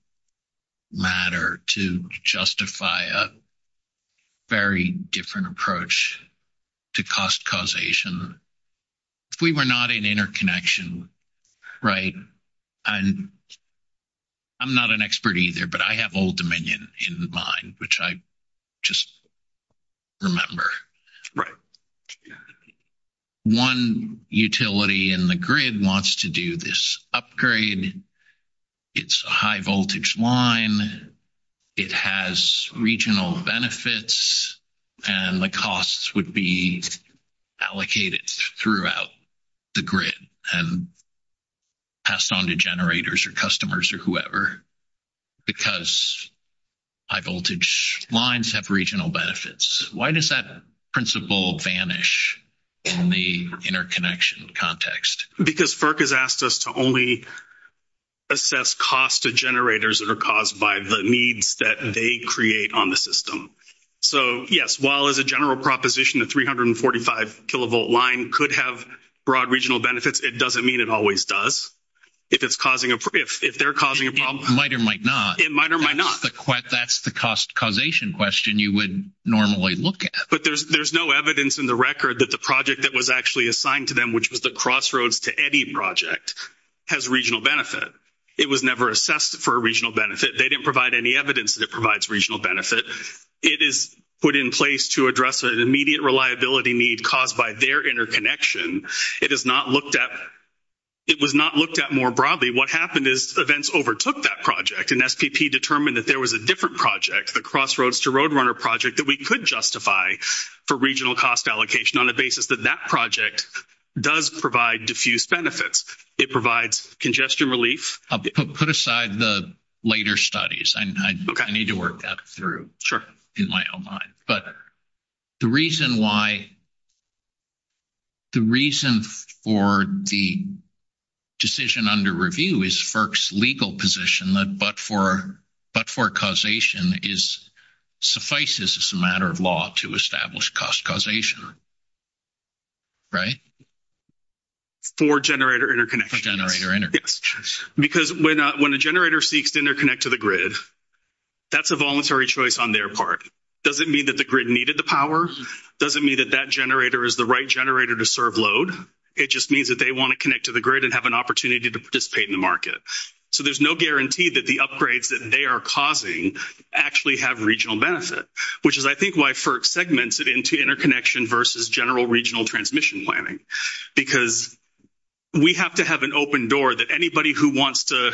Matter to justify a. Very different approach to cost causation. If we were not in interconnection, right. I'm not an expert either, but I have old dominion in mind, which I. Just remember, right? 1 utility in the grid wants to do this upgrade. It's a high voltage line. It has regional benefits. And the costs would be allocated throughout. The grid and passed on to generators or customers or whoever. Because I voltage lines have regional benefits. Why does that principle vanish? In the interconnection context, because has asked us to only. Assess cost to generators that are caused by the needs that they create on the system. So, yes, while as a general proposition, the 345 kilovolt line could have broad regional benefits. It doesn't mean it always does. If it's causing, if they're causing a problem, might or might not, it might or might not. That's the cost causation question. You would normally look at, but there's, there's no evidence in the record that the project that was actually assigned to them, which was the crossroads to any project. Has regional benefit. It was never assessed for a regional benefit. They didn't provide any evidence that it provides regional benefit. It is put in place to address an immediate reliability need caused by their interconnection. It is not looked at. It was not looked at more broadly. What happened is events overtook that project and determined that there was a different project, the crossroads to road runner project that we could justify for regional cost allocation on a basis that that project. Does provide diffuse benefits. It provides congestion relief put aside the later studies. I need to work that through. Sure. In my own mind, but the reason why. The reason for the. Decision under review is legal position that, but for but for causation is suffices as a matter of law to establish cost causation. Right for generator interconnection generator. Yes, because when a generator seeks to interconnect to the grid. That's a voluntary choice on their part. Doesn't mean that the grid needed the power. Doesn't mean that that generator is the right generator to serve load. It just means that they want to connect to the grid and have an opportunity to participate in the market. So, there's no guarantee that the upgrades that they are causing actually have regional benefit, which is, I think, why for segments it into interconnection versus general regional transmission planning, because. We have to have an open door that anybody who wants to.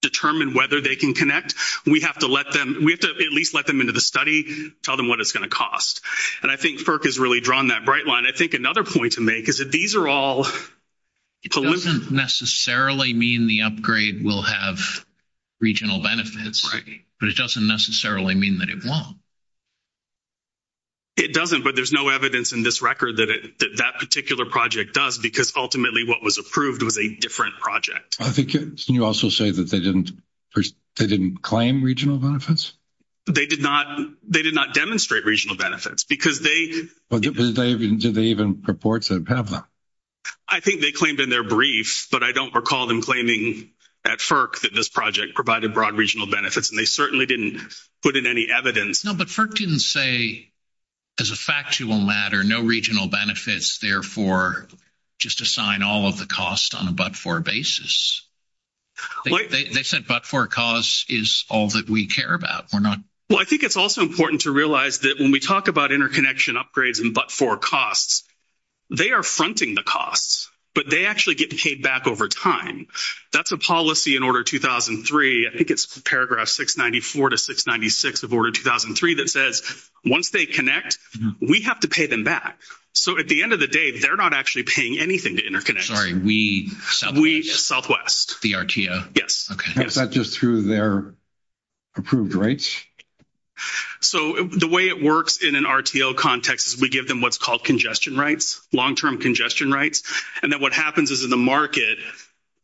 Determine whether they can connect, we have to let them, we have to at least let them into the study, tell them what it's going to cost. And I think has really drawn that bright line. I think another point to make is that these are all. It doesn't necessarily mean the upgrade will have. Regional benefits, but it doesn't necessarily mean that it won't. It doesn't, but there's no evidence in this record that that particular project does, because ultimately what was approved was a different project. I think you also say that they didn't. They didn't claim regional benefits, but they did not. They did not demonstrate regional benefits because they did. They even reports that have them. I think they claimed in their brief, but I don't recall them claiming at that this project provided broad regional benefits and they certainly didn't put in any evidence. No, but didn't say. As a factual matter, no regional benefits, therefore. Just assign all of the costs on a, but for basis. They said, but for cause is all that we care about. We're not. Well, I think it's also important to realize that when we talk about interconnection upgrades and but for costs. They are fronting the costs, but they actually get paid back over time. That's a policy in order 2003. I think it's paragraph 694 to 696 of order 2003 that says, once they connect, we have to pay them back. So, at the end of the day, they're not actually paying anything to interconnect. Sorry. We Southwest the RTO. Yes. Okay. That's not just through their. Approved rights, so the way it works in an RTO context is we give them what's called congestion rights, long term congestion rights. And then what happens is in the market.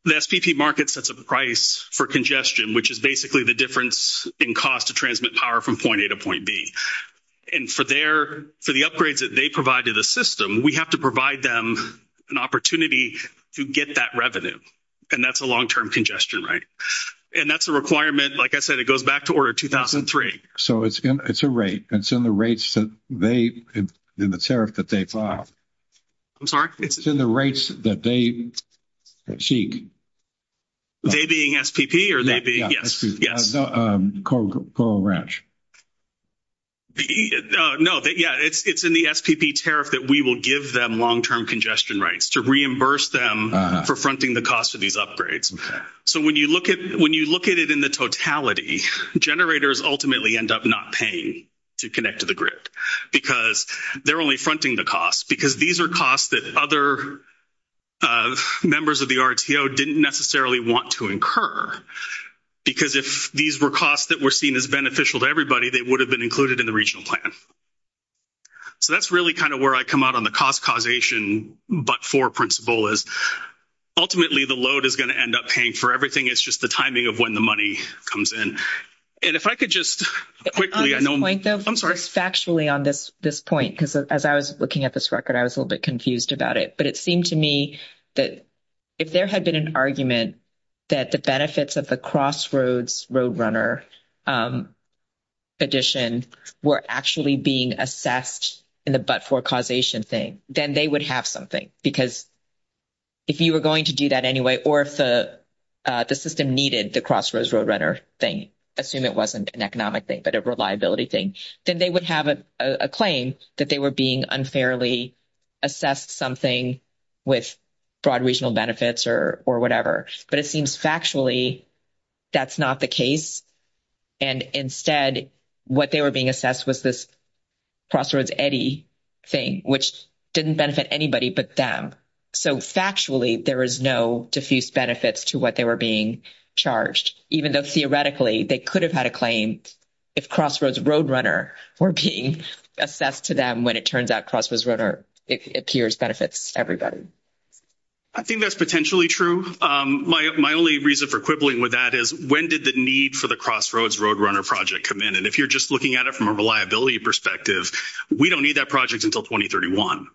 The SPP market sets a price for congestion, which is basically the difference in cost to transmit power from point A to point B and for their, for the upgrades that they provide to the system, we have to provide them an opportunity to get that revenue. And that's a long term congestion, right? And that's a requirement. Like I said, it goes back to order 2003. so it's it's a rate. It's in the rates that they, in the tariff that they file. I'm sorry, it's in the rates that they seek. They being SPP, or they be yes. Yes. Coral ranch. No, yeah, it's it's in the SPP tariff that we will give them long term congestion rights to reimburse them for fronting the cost of these upgrades. So, when you look at, when you look at it in the totality generators, ultimately end up not paying. To connect to the grid, because they're only fronting the costs because these are costs that other. Members of the RTO didn't necessarily want to incur. Because if these were costs that were seen as beneficial to everybody, they would have been included in the regional plan. So, that's really kind of where I come out on the cost causation, but for principle is. Ultimately, the load is going to end up paying for everything. It's just the timing of when the money comes in. And if I could just quickly, I'm sorry factually on this this point, because as I was looking at this record, I was a little bit confused about it, but it seemed to me that. If there had been an argument that the benefits of the crossroads road runner. Addition were actually being assessed in the, but for causation thing, then they would have something because. If you were going to do that anyway, or if the, uh, the system needed the crossroads road runner thing, assume it wasn't an economic thing, but a reliability thing, then they would have a claim that they were being unfairly. Assessed something with broad regional benefits or or whatever, but it seems factually. That's not the case and instead what they were being assessed was this. Crossroads Eddie thing, which didn't benefit anybody, but them. So, factually, there is no diffuse benefits to what they were being charged, even though theoretically they could have had a claim. If crossroads road runner, we're being assessed to them when it turns out crossroads runner, it appears benefits everybody. I think that's potentially true. My only reason for quibbling with that is when did the need for the crossroads road runner project come in? And if you're just looking at it from a reliability perspective, we don't need that project until 2031.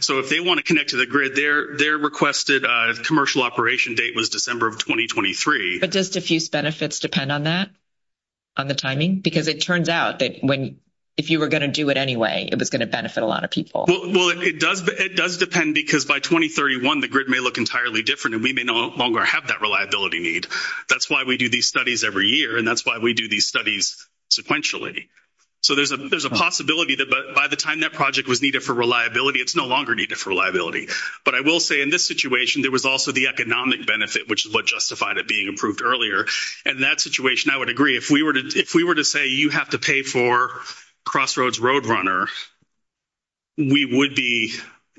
So, if they want to connect to the grid, their, their requested commercial operation date was December of 2023, but just diffuse benefits depend on that. On the timing, because it turns out that when. If you were going to do it anyway, it was going to benefit a lot of people. Well, it does. It does depend because by 2031, the grid may look entirely different and we may no longer have that reliability need. That's why we do these studies every year. And that's why we do these studies. Sequentially, so there's a, there's a possibility that by the time that project was needed for reliability, it's no longer needed for reliability, but I will say in this situation, there was also the economic benefit, which is what justified it being approved earlier. And that situation, I would agree if we were to, if we were to say, you have to pay for crossroads road runner. We would be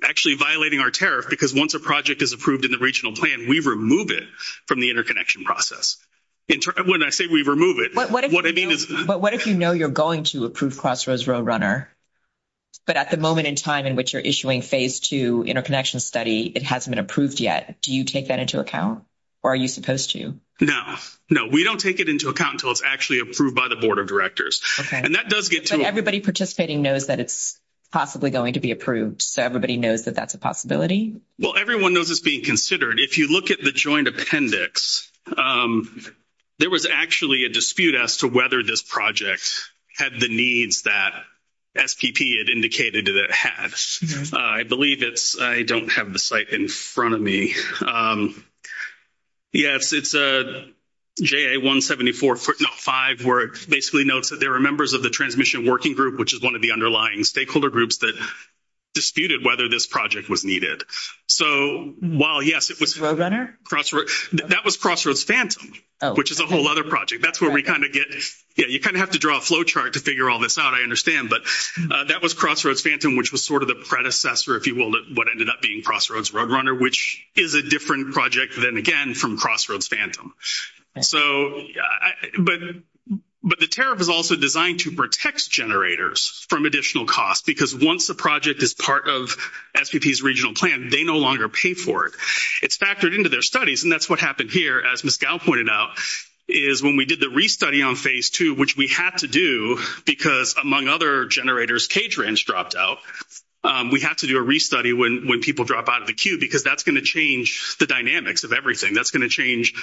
actually violating our tariff because once a project is approved in the regional plan, we remove it from the interconnection process. When I say we remove it, what I mean is, but what if, you know, you're going to approve crossroads road runner. But at the moment in time in which you're issuing phase 2 interconnection study, it hasn't been approved yet. Do you take that into account? Or are you supposed to? No, no, we don't take it into account until it's actually approved by the board of directors. And that does get to everybody participating knows that it's. Possibly going to be approved, so everybody knows that that's a possibility. Well, everyone knows it's being considered. If you look at the joint appendix. There was actually a dispute as to whether this project had the needs that. SPP had indicated that it had, I believe it's I don't have the site in front of me. Yes, it's a 174 foot, not 5, where it basically notes that there are members of the transmission working group, which is 1 of the underlying stakeholder groups that. Disputed whether this project was needed. So while, yes, it was that was crossroads phantom, which is a whole other project. That's where we kind of get. Yeah, you kind of have to draw a flow chart to figure all this out. I understand, but that was crossroads phantom, which was sort of the predecessor. If you will, what ended up being crossroads road runner, which is a different project than again from crossroads phantom. So, but, but the tariff is also designed to protect generators from additional costs because once the project is part of regional plan, they no longer pay for it. It's factored into their studies, and that's what happened here as pointed out is when we did the restudy on phase 2, which we had to do, because among other generators cage ranch dropped out, we have to do a restudy when when people drop out of the queue, because that's going to change the dynamics of everything that's going to change.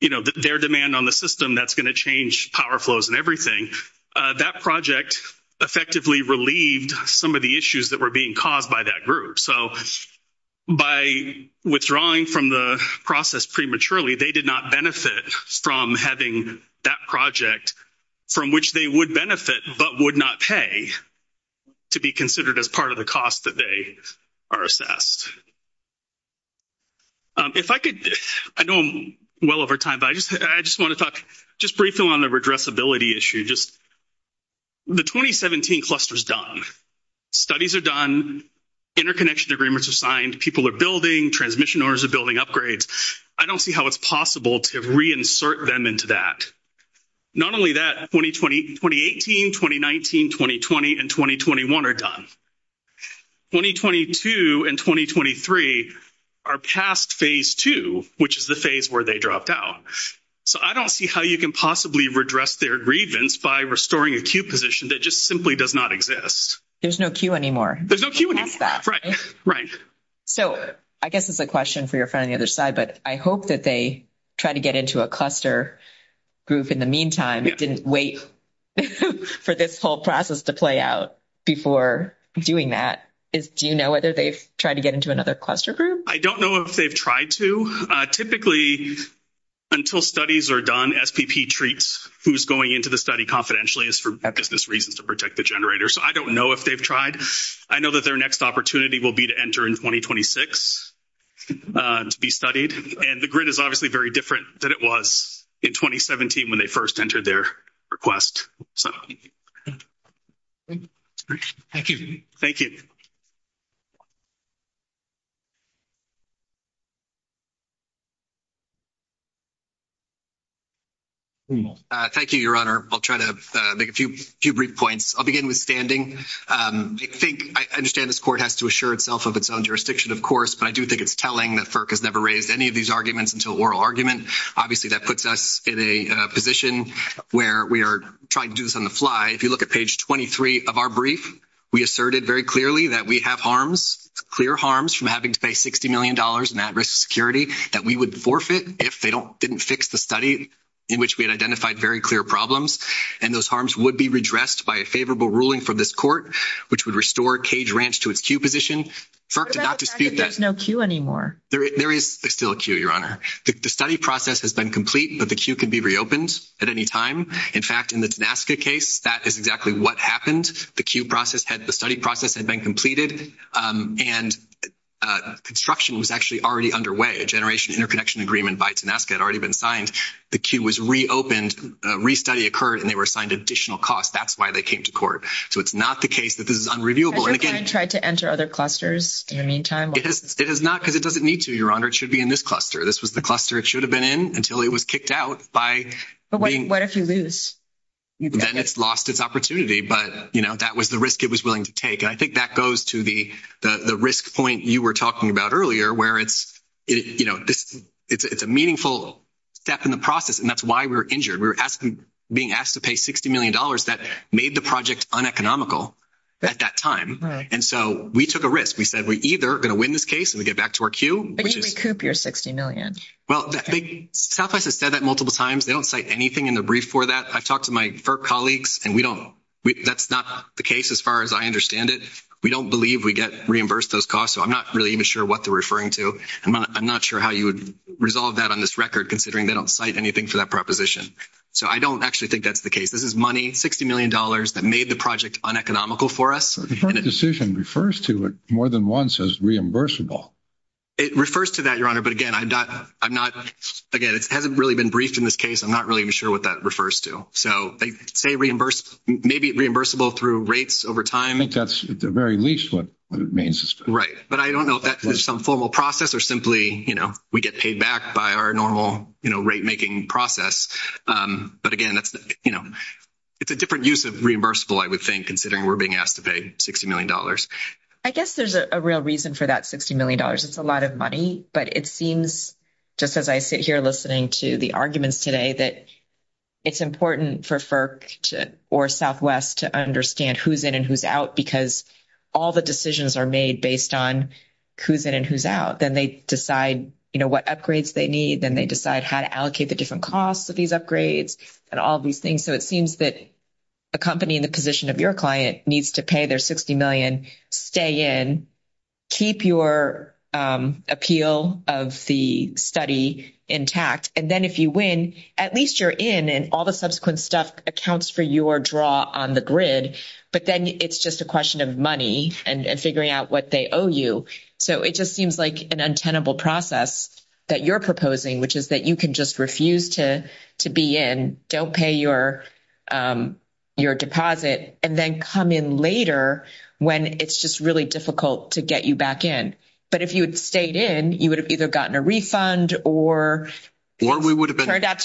You know, their demand on the system that's going to change power flows and everything that project effectively relieved some of the issues that were being caused by that group. So. By withdrawing from the process prematurely, they did not benefit from having that project from which they would benefit, but would not pay to be considered as part of the cost that they are assessed. If I could, I know I'm well over time, but I just, I just want to talk just briefly on the addressability issue. Just the 2017 clusters done studies are done interconnection agreements are signed people are building transmission orders are building upgrades. I don't see how it's possible to reinsert them into that. Not only that, 20, 20, 20, 18, 2019, 2020 and 2021 are done. 2022 and 2023. Are past phase 2, which is the phase where they dropped out. So I don't see how you can possibly redress their grievance by restoring a queue position that just simply does not exist. There's no queue anymore. There's no queue. Right? Right. So, I guess it's a question for your friend on the other side, but I hope that they try to get into a cluster. Group in the meantime, didn't wait for this whole process to play out before doing that is do, you know, whether they've tried to get into another cluster group? I don't know if they've tried to typically. Until studies are done, SPP treats who's going into the study. Confidentially is for business reasons to protect the generator. So I don't know if they've tried. I know that their next opportunity will be to enter in 2026 to be studied and the grid is obviously very different than it was in 2017 when they 1st entered their request. So, thank you. Thank you. Thank you, your honor. I'll try to make a few brief points. I'll begin with standing. I think I understand this court has to assure itself of its own jurisdiction. Of course, but I do think it's telling that has never raised any of these arguments until oral argument. Obviously, that puts us in a position where we are trying to do this on the fly. If you look at page 23 of our brief, we asserted very clearly that we have harms, clear harms from having to pay 60Million dollars and that risk security that we would forfeit if we didn't do this on the fly. If they don't didn't fix the study in which we had identified very clear problems, and those harms would be redressed by a favorable ruling for this court, which would restore cage ranch to its Q position for not to speak. There's no Q. anymore. There is still a Q. your honor. The study process has been complete, but the Q can be reopened at any time. In fact, in the case, that is exactly what happened. The Q process had the study process had been completed and. Uh, construction was actually already underway a generation interconnection agreement bites and ask had already been signed. The Q was reopened, restudy occurred, and they were assigned additional costs. That's why they came to court. So it's not the case that this is unreviewable. And again, tried to enter other clusters. In the meantime, it is not because it doesn't need to your honor. It should be in this cluster. This was the cluster. It should have been in until it was kicked out by what if you lose. Then it's lost its opportunity, but that was the risk it was willing to take. And I think that goes to the, the, the risk point you were talking about earlier where it's, you know, it's a meaningful step in the process. And that's why we're injured. We were asking being asked to pay 60Million dollars that made the project on economical at that time. And so we took a risk. We said, we either going to win this case and we get back to our Q, which is 60Million. Well, Southwest has said that multiple times. They don't cite anything in the brief for that. I've talked to my colleagues and we don't, that's not the case. As far as I understand it. We don't believe we get reimbursed those costs. So I'm not really even sure what they're referring to. And I'm not sure how you would resolve that on this record, considering they don't cite anything for that proposition. So, I don't actually think that's the case. This is money, 60Million dollars that made the project on economical for us decision refers to it more than once as reimbursable. It refers to that your honor, but again, I'm not, I'm not again, it hasn't really been briefed in this case. I'm not really sure what that refers to. So they say reimbursed, maybe reimbursable through rates over time. I think that's the very least. What it means is right, but I don't know if that is some formal process or simply, you know, we get paid back by our normal rate making process. But again, that's, you know, it's a different use of reimbursable. I would think, considering we're being asked to pay 60Million dollars. I guess there's a real reason for that. 60Million dollars. It's a lot of money, but it seems just as I sit here, listening to the arguments today that. It's important for FERC or Southwest to understand who's in and who's out because all the decisions are made based on who's in and who's out, then they decide what upgrades they need. Then they decide how to allocate the different costs of these upgrades and all of these things. So it seems that. A company in the position of your client needs to pay their 60Million stay in. Keep your appeal of the study intact and then if you win, at least you're in and all the subsequent stuff accounts for your draw on the grid, but then it's just a question of money and figuring out what they owe you. So, it just seems like an untenable process that you're proposing, which is that you can just refuse to to be in don't pay your, your deposit and then come in later when it's just really difficult to get you back in. But if you had stayed in, you would have either gotten a refund or, or we would have turned out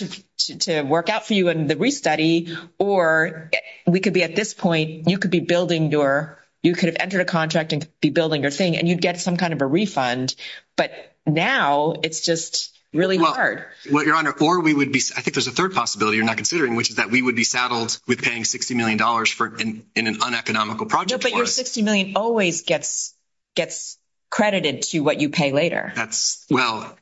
to work out for you and the restudy, or we could be at this point, you could be building your, you could have entered a contract and be building your thing. And you'd get some kind of a refund, but now it's just really hard. Well, your honor, or we would be. I think there's a 3rd possibility. You're not considering, which is that we would be saddled with paying 60Million dollars for in an uneconomical project, but you're 60Million always gets. Gets credited to what you pay later. That's well.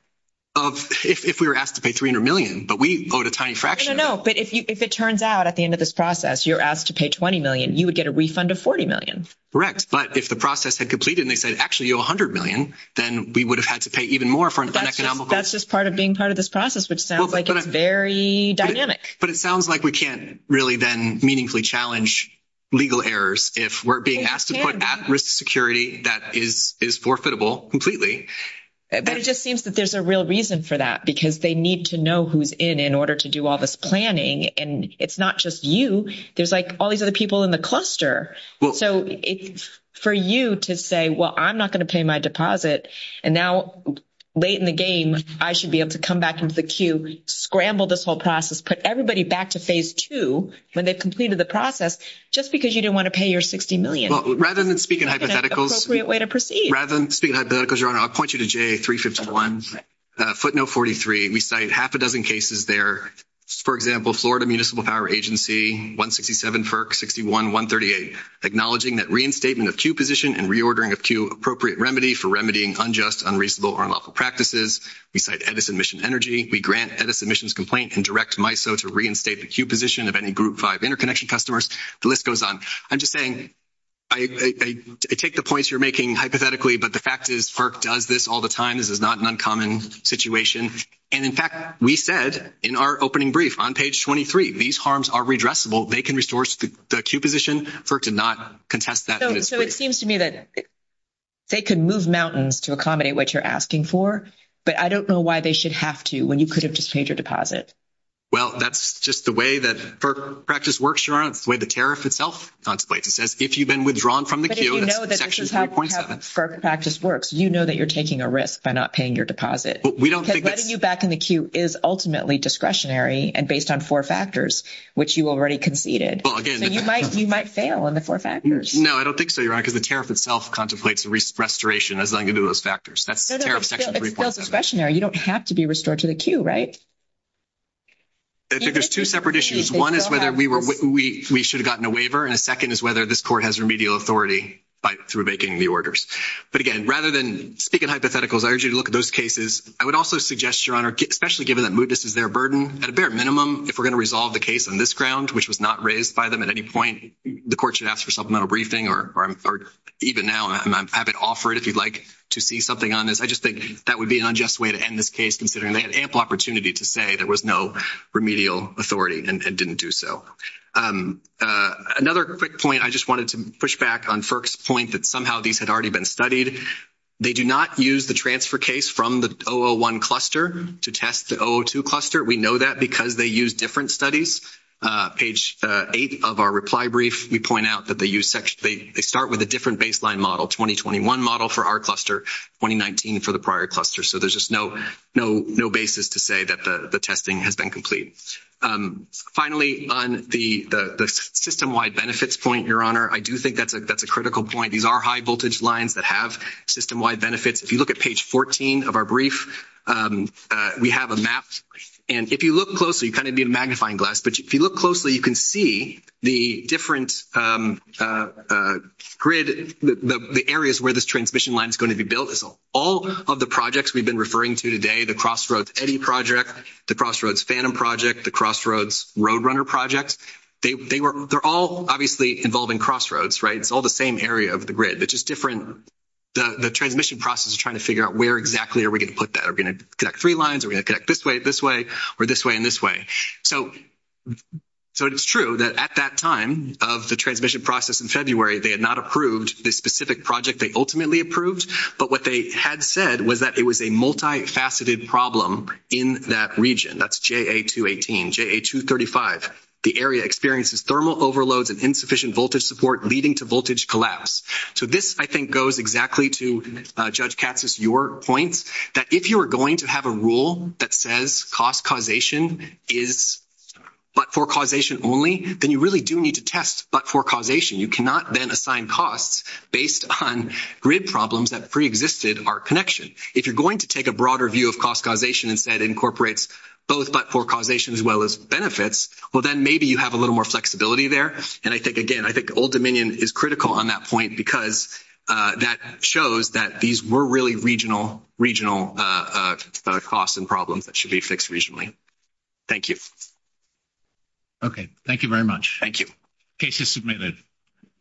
Of if we were asked to pay 300Million, but we load a tiny fraction. No, but if you, if it turns out at the end of this process, you're asked to pay 20Million, you would get a refund of 40Million. Correct. But if the process had completed, and they said, actually, you 100Million, then we would have had to pay even more for an economic. That's just part of being part of this process, which sounds like it's very dynamic, but it sounds like we can't really then meaningfully challenge legal errors if we're being asked to put at risk security, that is, is forfeitable completely, but it just seems that there's a lot of. There's a real reason for that, because they need to know who's in in order to do all this planning. And it's not just you. There's like, all these other people in the cluster. So, for you to say, well, I'm not going to pay my deposit and now late in the game, I should be able to come back into the queue, scramble this whole process, put everybody back to phase 2 when they've completed the process just because you didn't want to pay your 60Million rather than speaking hypotheticals way to proceed rather than speaking. I'll point you to J351 footnote 43. We cite half a dozen cases there, for example, Florida Municipal Power Agency, 167 FERC, 61, 138, acknowledging that reinstatement of queue position and reordering of queue appropriate remedy for remedying unjust, unreasonable or unlawful practices, we cite Edison Mission Energy, we grant Edison Mission's complaint and direct MISO to reinstate the queue position of any group 5 interconnection customers. The list goes on. I'm just saying, I take the points you're making hypothetically, but the fact is FERC does this all the time. This is not an uncommon situation. And in fact, we said in our opening brief on page 23, these harms are redressable. They can restore the queue position. FERC did not contest that. So, it seems to me that they can move mountains to accommodate what you're asking for, but I don't know why they should have to when you could have just paid your deposit. Well, that's just the way that FERC practice works, Your Honor. It's the way the tariff itself contemplates. It says if you've been withdrawn from the queue, that's section 3.7. But if you know that this is how FERC practice works, you know that you're taking a risk by not paying your deposit. But we don't think that's – Because letting you back in the queue is ultimately discretionary and based on four factors, which you already conceded. Well, again – So, you might fail on the four factors. No, I don't think so, Your Honor, because the tariff itself contemplates restoration as long as you do those factors. That's tariff section 3.7. No, no, it's still discretionary. You don't have to be restored to the queue, right? I think there's two separate issues. One is whether we should have gotten a waiver, and a second is whether this court has remedial authority through making the orders. But, again, rather than speak in hypotheticals, I urge you to look at those cases. I would also suggest, Your Honor, especially given that mootness is their burden, at a bare minimum, if we're going to resolve the case on this ground, which was not raised by them at any point, the court should ask for supplemental briefing or even now have it offered if you'd like to see something on this. I just think that would be an unjust way to end this case, considering they had ample opportunity to say there was no remedial authority and didn't do so. Another quick point I just wanted to push back on FERC's point that somehow these had already been studied. They do not use the transfer case from the 001 cluster to test the 002 cluster. We know that because they use different studies. Page 8 of our reply brief, we point out that they start with a different baseline model, 2021 model for our cluster, 2019 for the prior cluster. So there's just no basis to say that the testing has been complete. Finally, on the system-wide benefits point, Your Honor, I do think that's a critical point. These are high-voltage lines that have system-wide benefits. If you look at page 14 of our brief, we have a map. And if you look closely, you kind of be a magnifying glass, but if you look closely, you can see the different grid, the areas where this transmission line is going to be built. All of the projects we've been referring to today, the Crossroads Eddy Project, the Crossroads Phantom Project, the Crossroads Roadrunner Project, they're all obviously involving crossroads, right? It's all the same area of the grid. They're just different. The transmission process is trying to figure out where exactly are we going to put that? Are we going to connect three lines? Are we going to connect this way, this way, or this way, and this way? So it's true that at that time of the transmission process in February, they had not approved the specific project they ultimately approved. But what they had said was that it was a multifaceted problem in that region. That's JA218, JA235. The area experiences thermal overloads and insufficient voltage support, leading to voltage collapse. So this, I think, goes exactly to, Judge Katsas, your points, that if you are going to have a rule that says cost causation is but-for-causation only, then you really do need to test but-for-causation. You cannot then assign costs based on grid problems that preexisted our connection. If you're going to take a broader view of cost causation and say it incorporates both but-for-causation as well as benefits, well, then maybe you have a little more flexibility there. And I think, again, I think Old Dominion is critical on that point because that shows that these were really regional costs and problems that should be fixed regionally. Thank you. Okay. Thank you very much. Thank you. Case is submitted.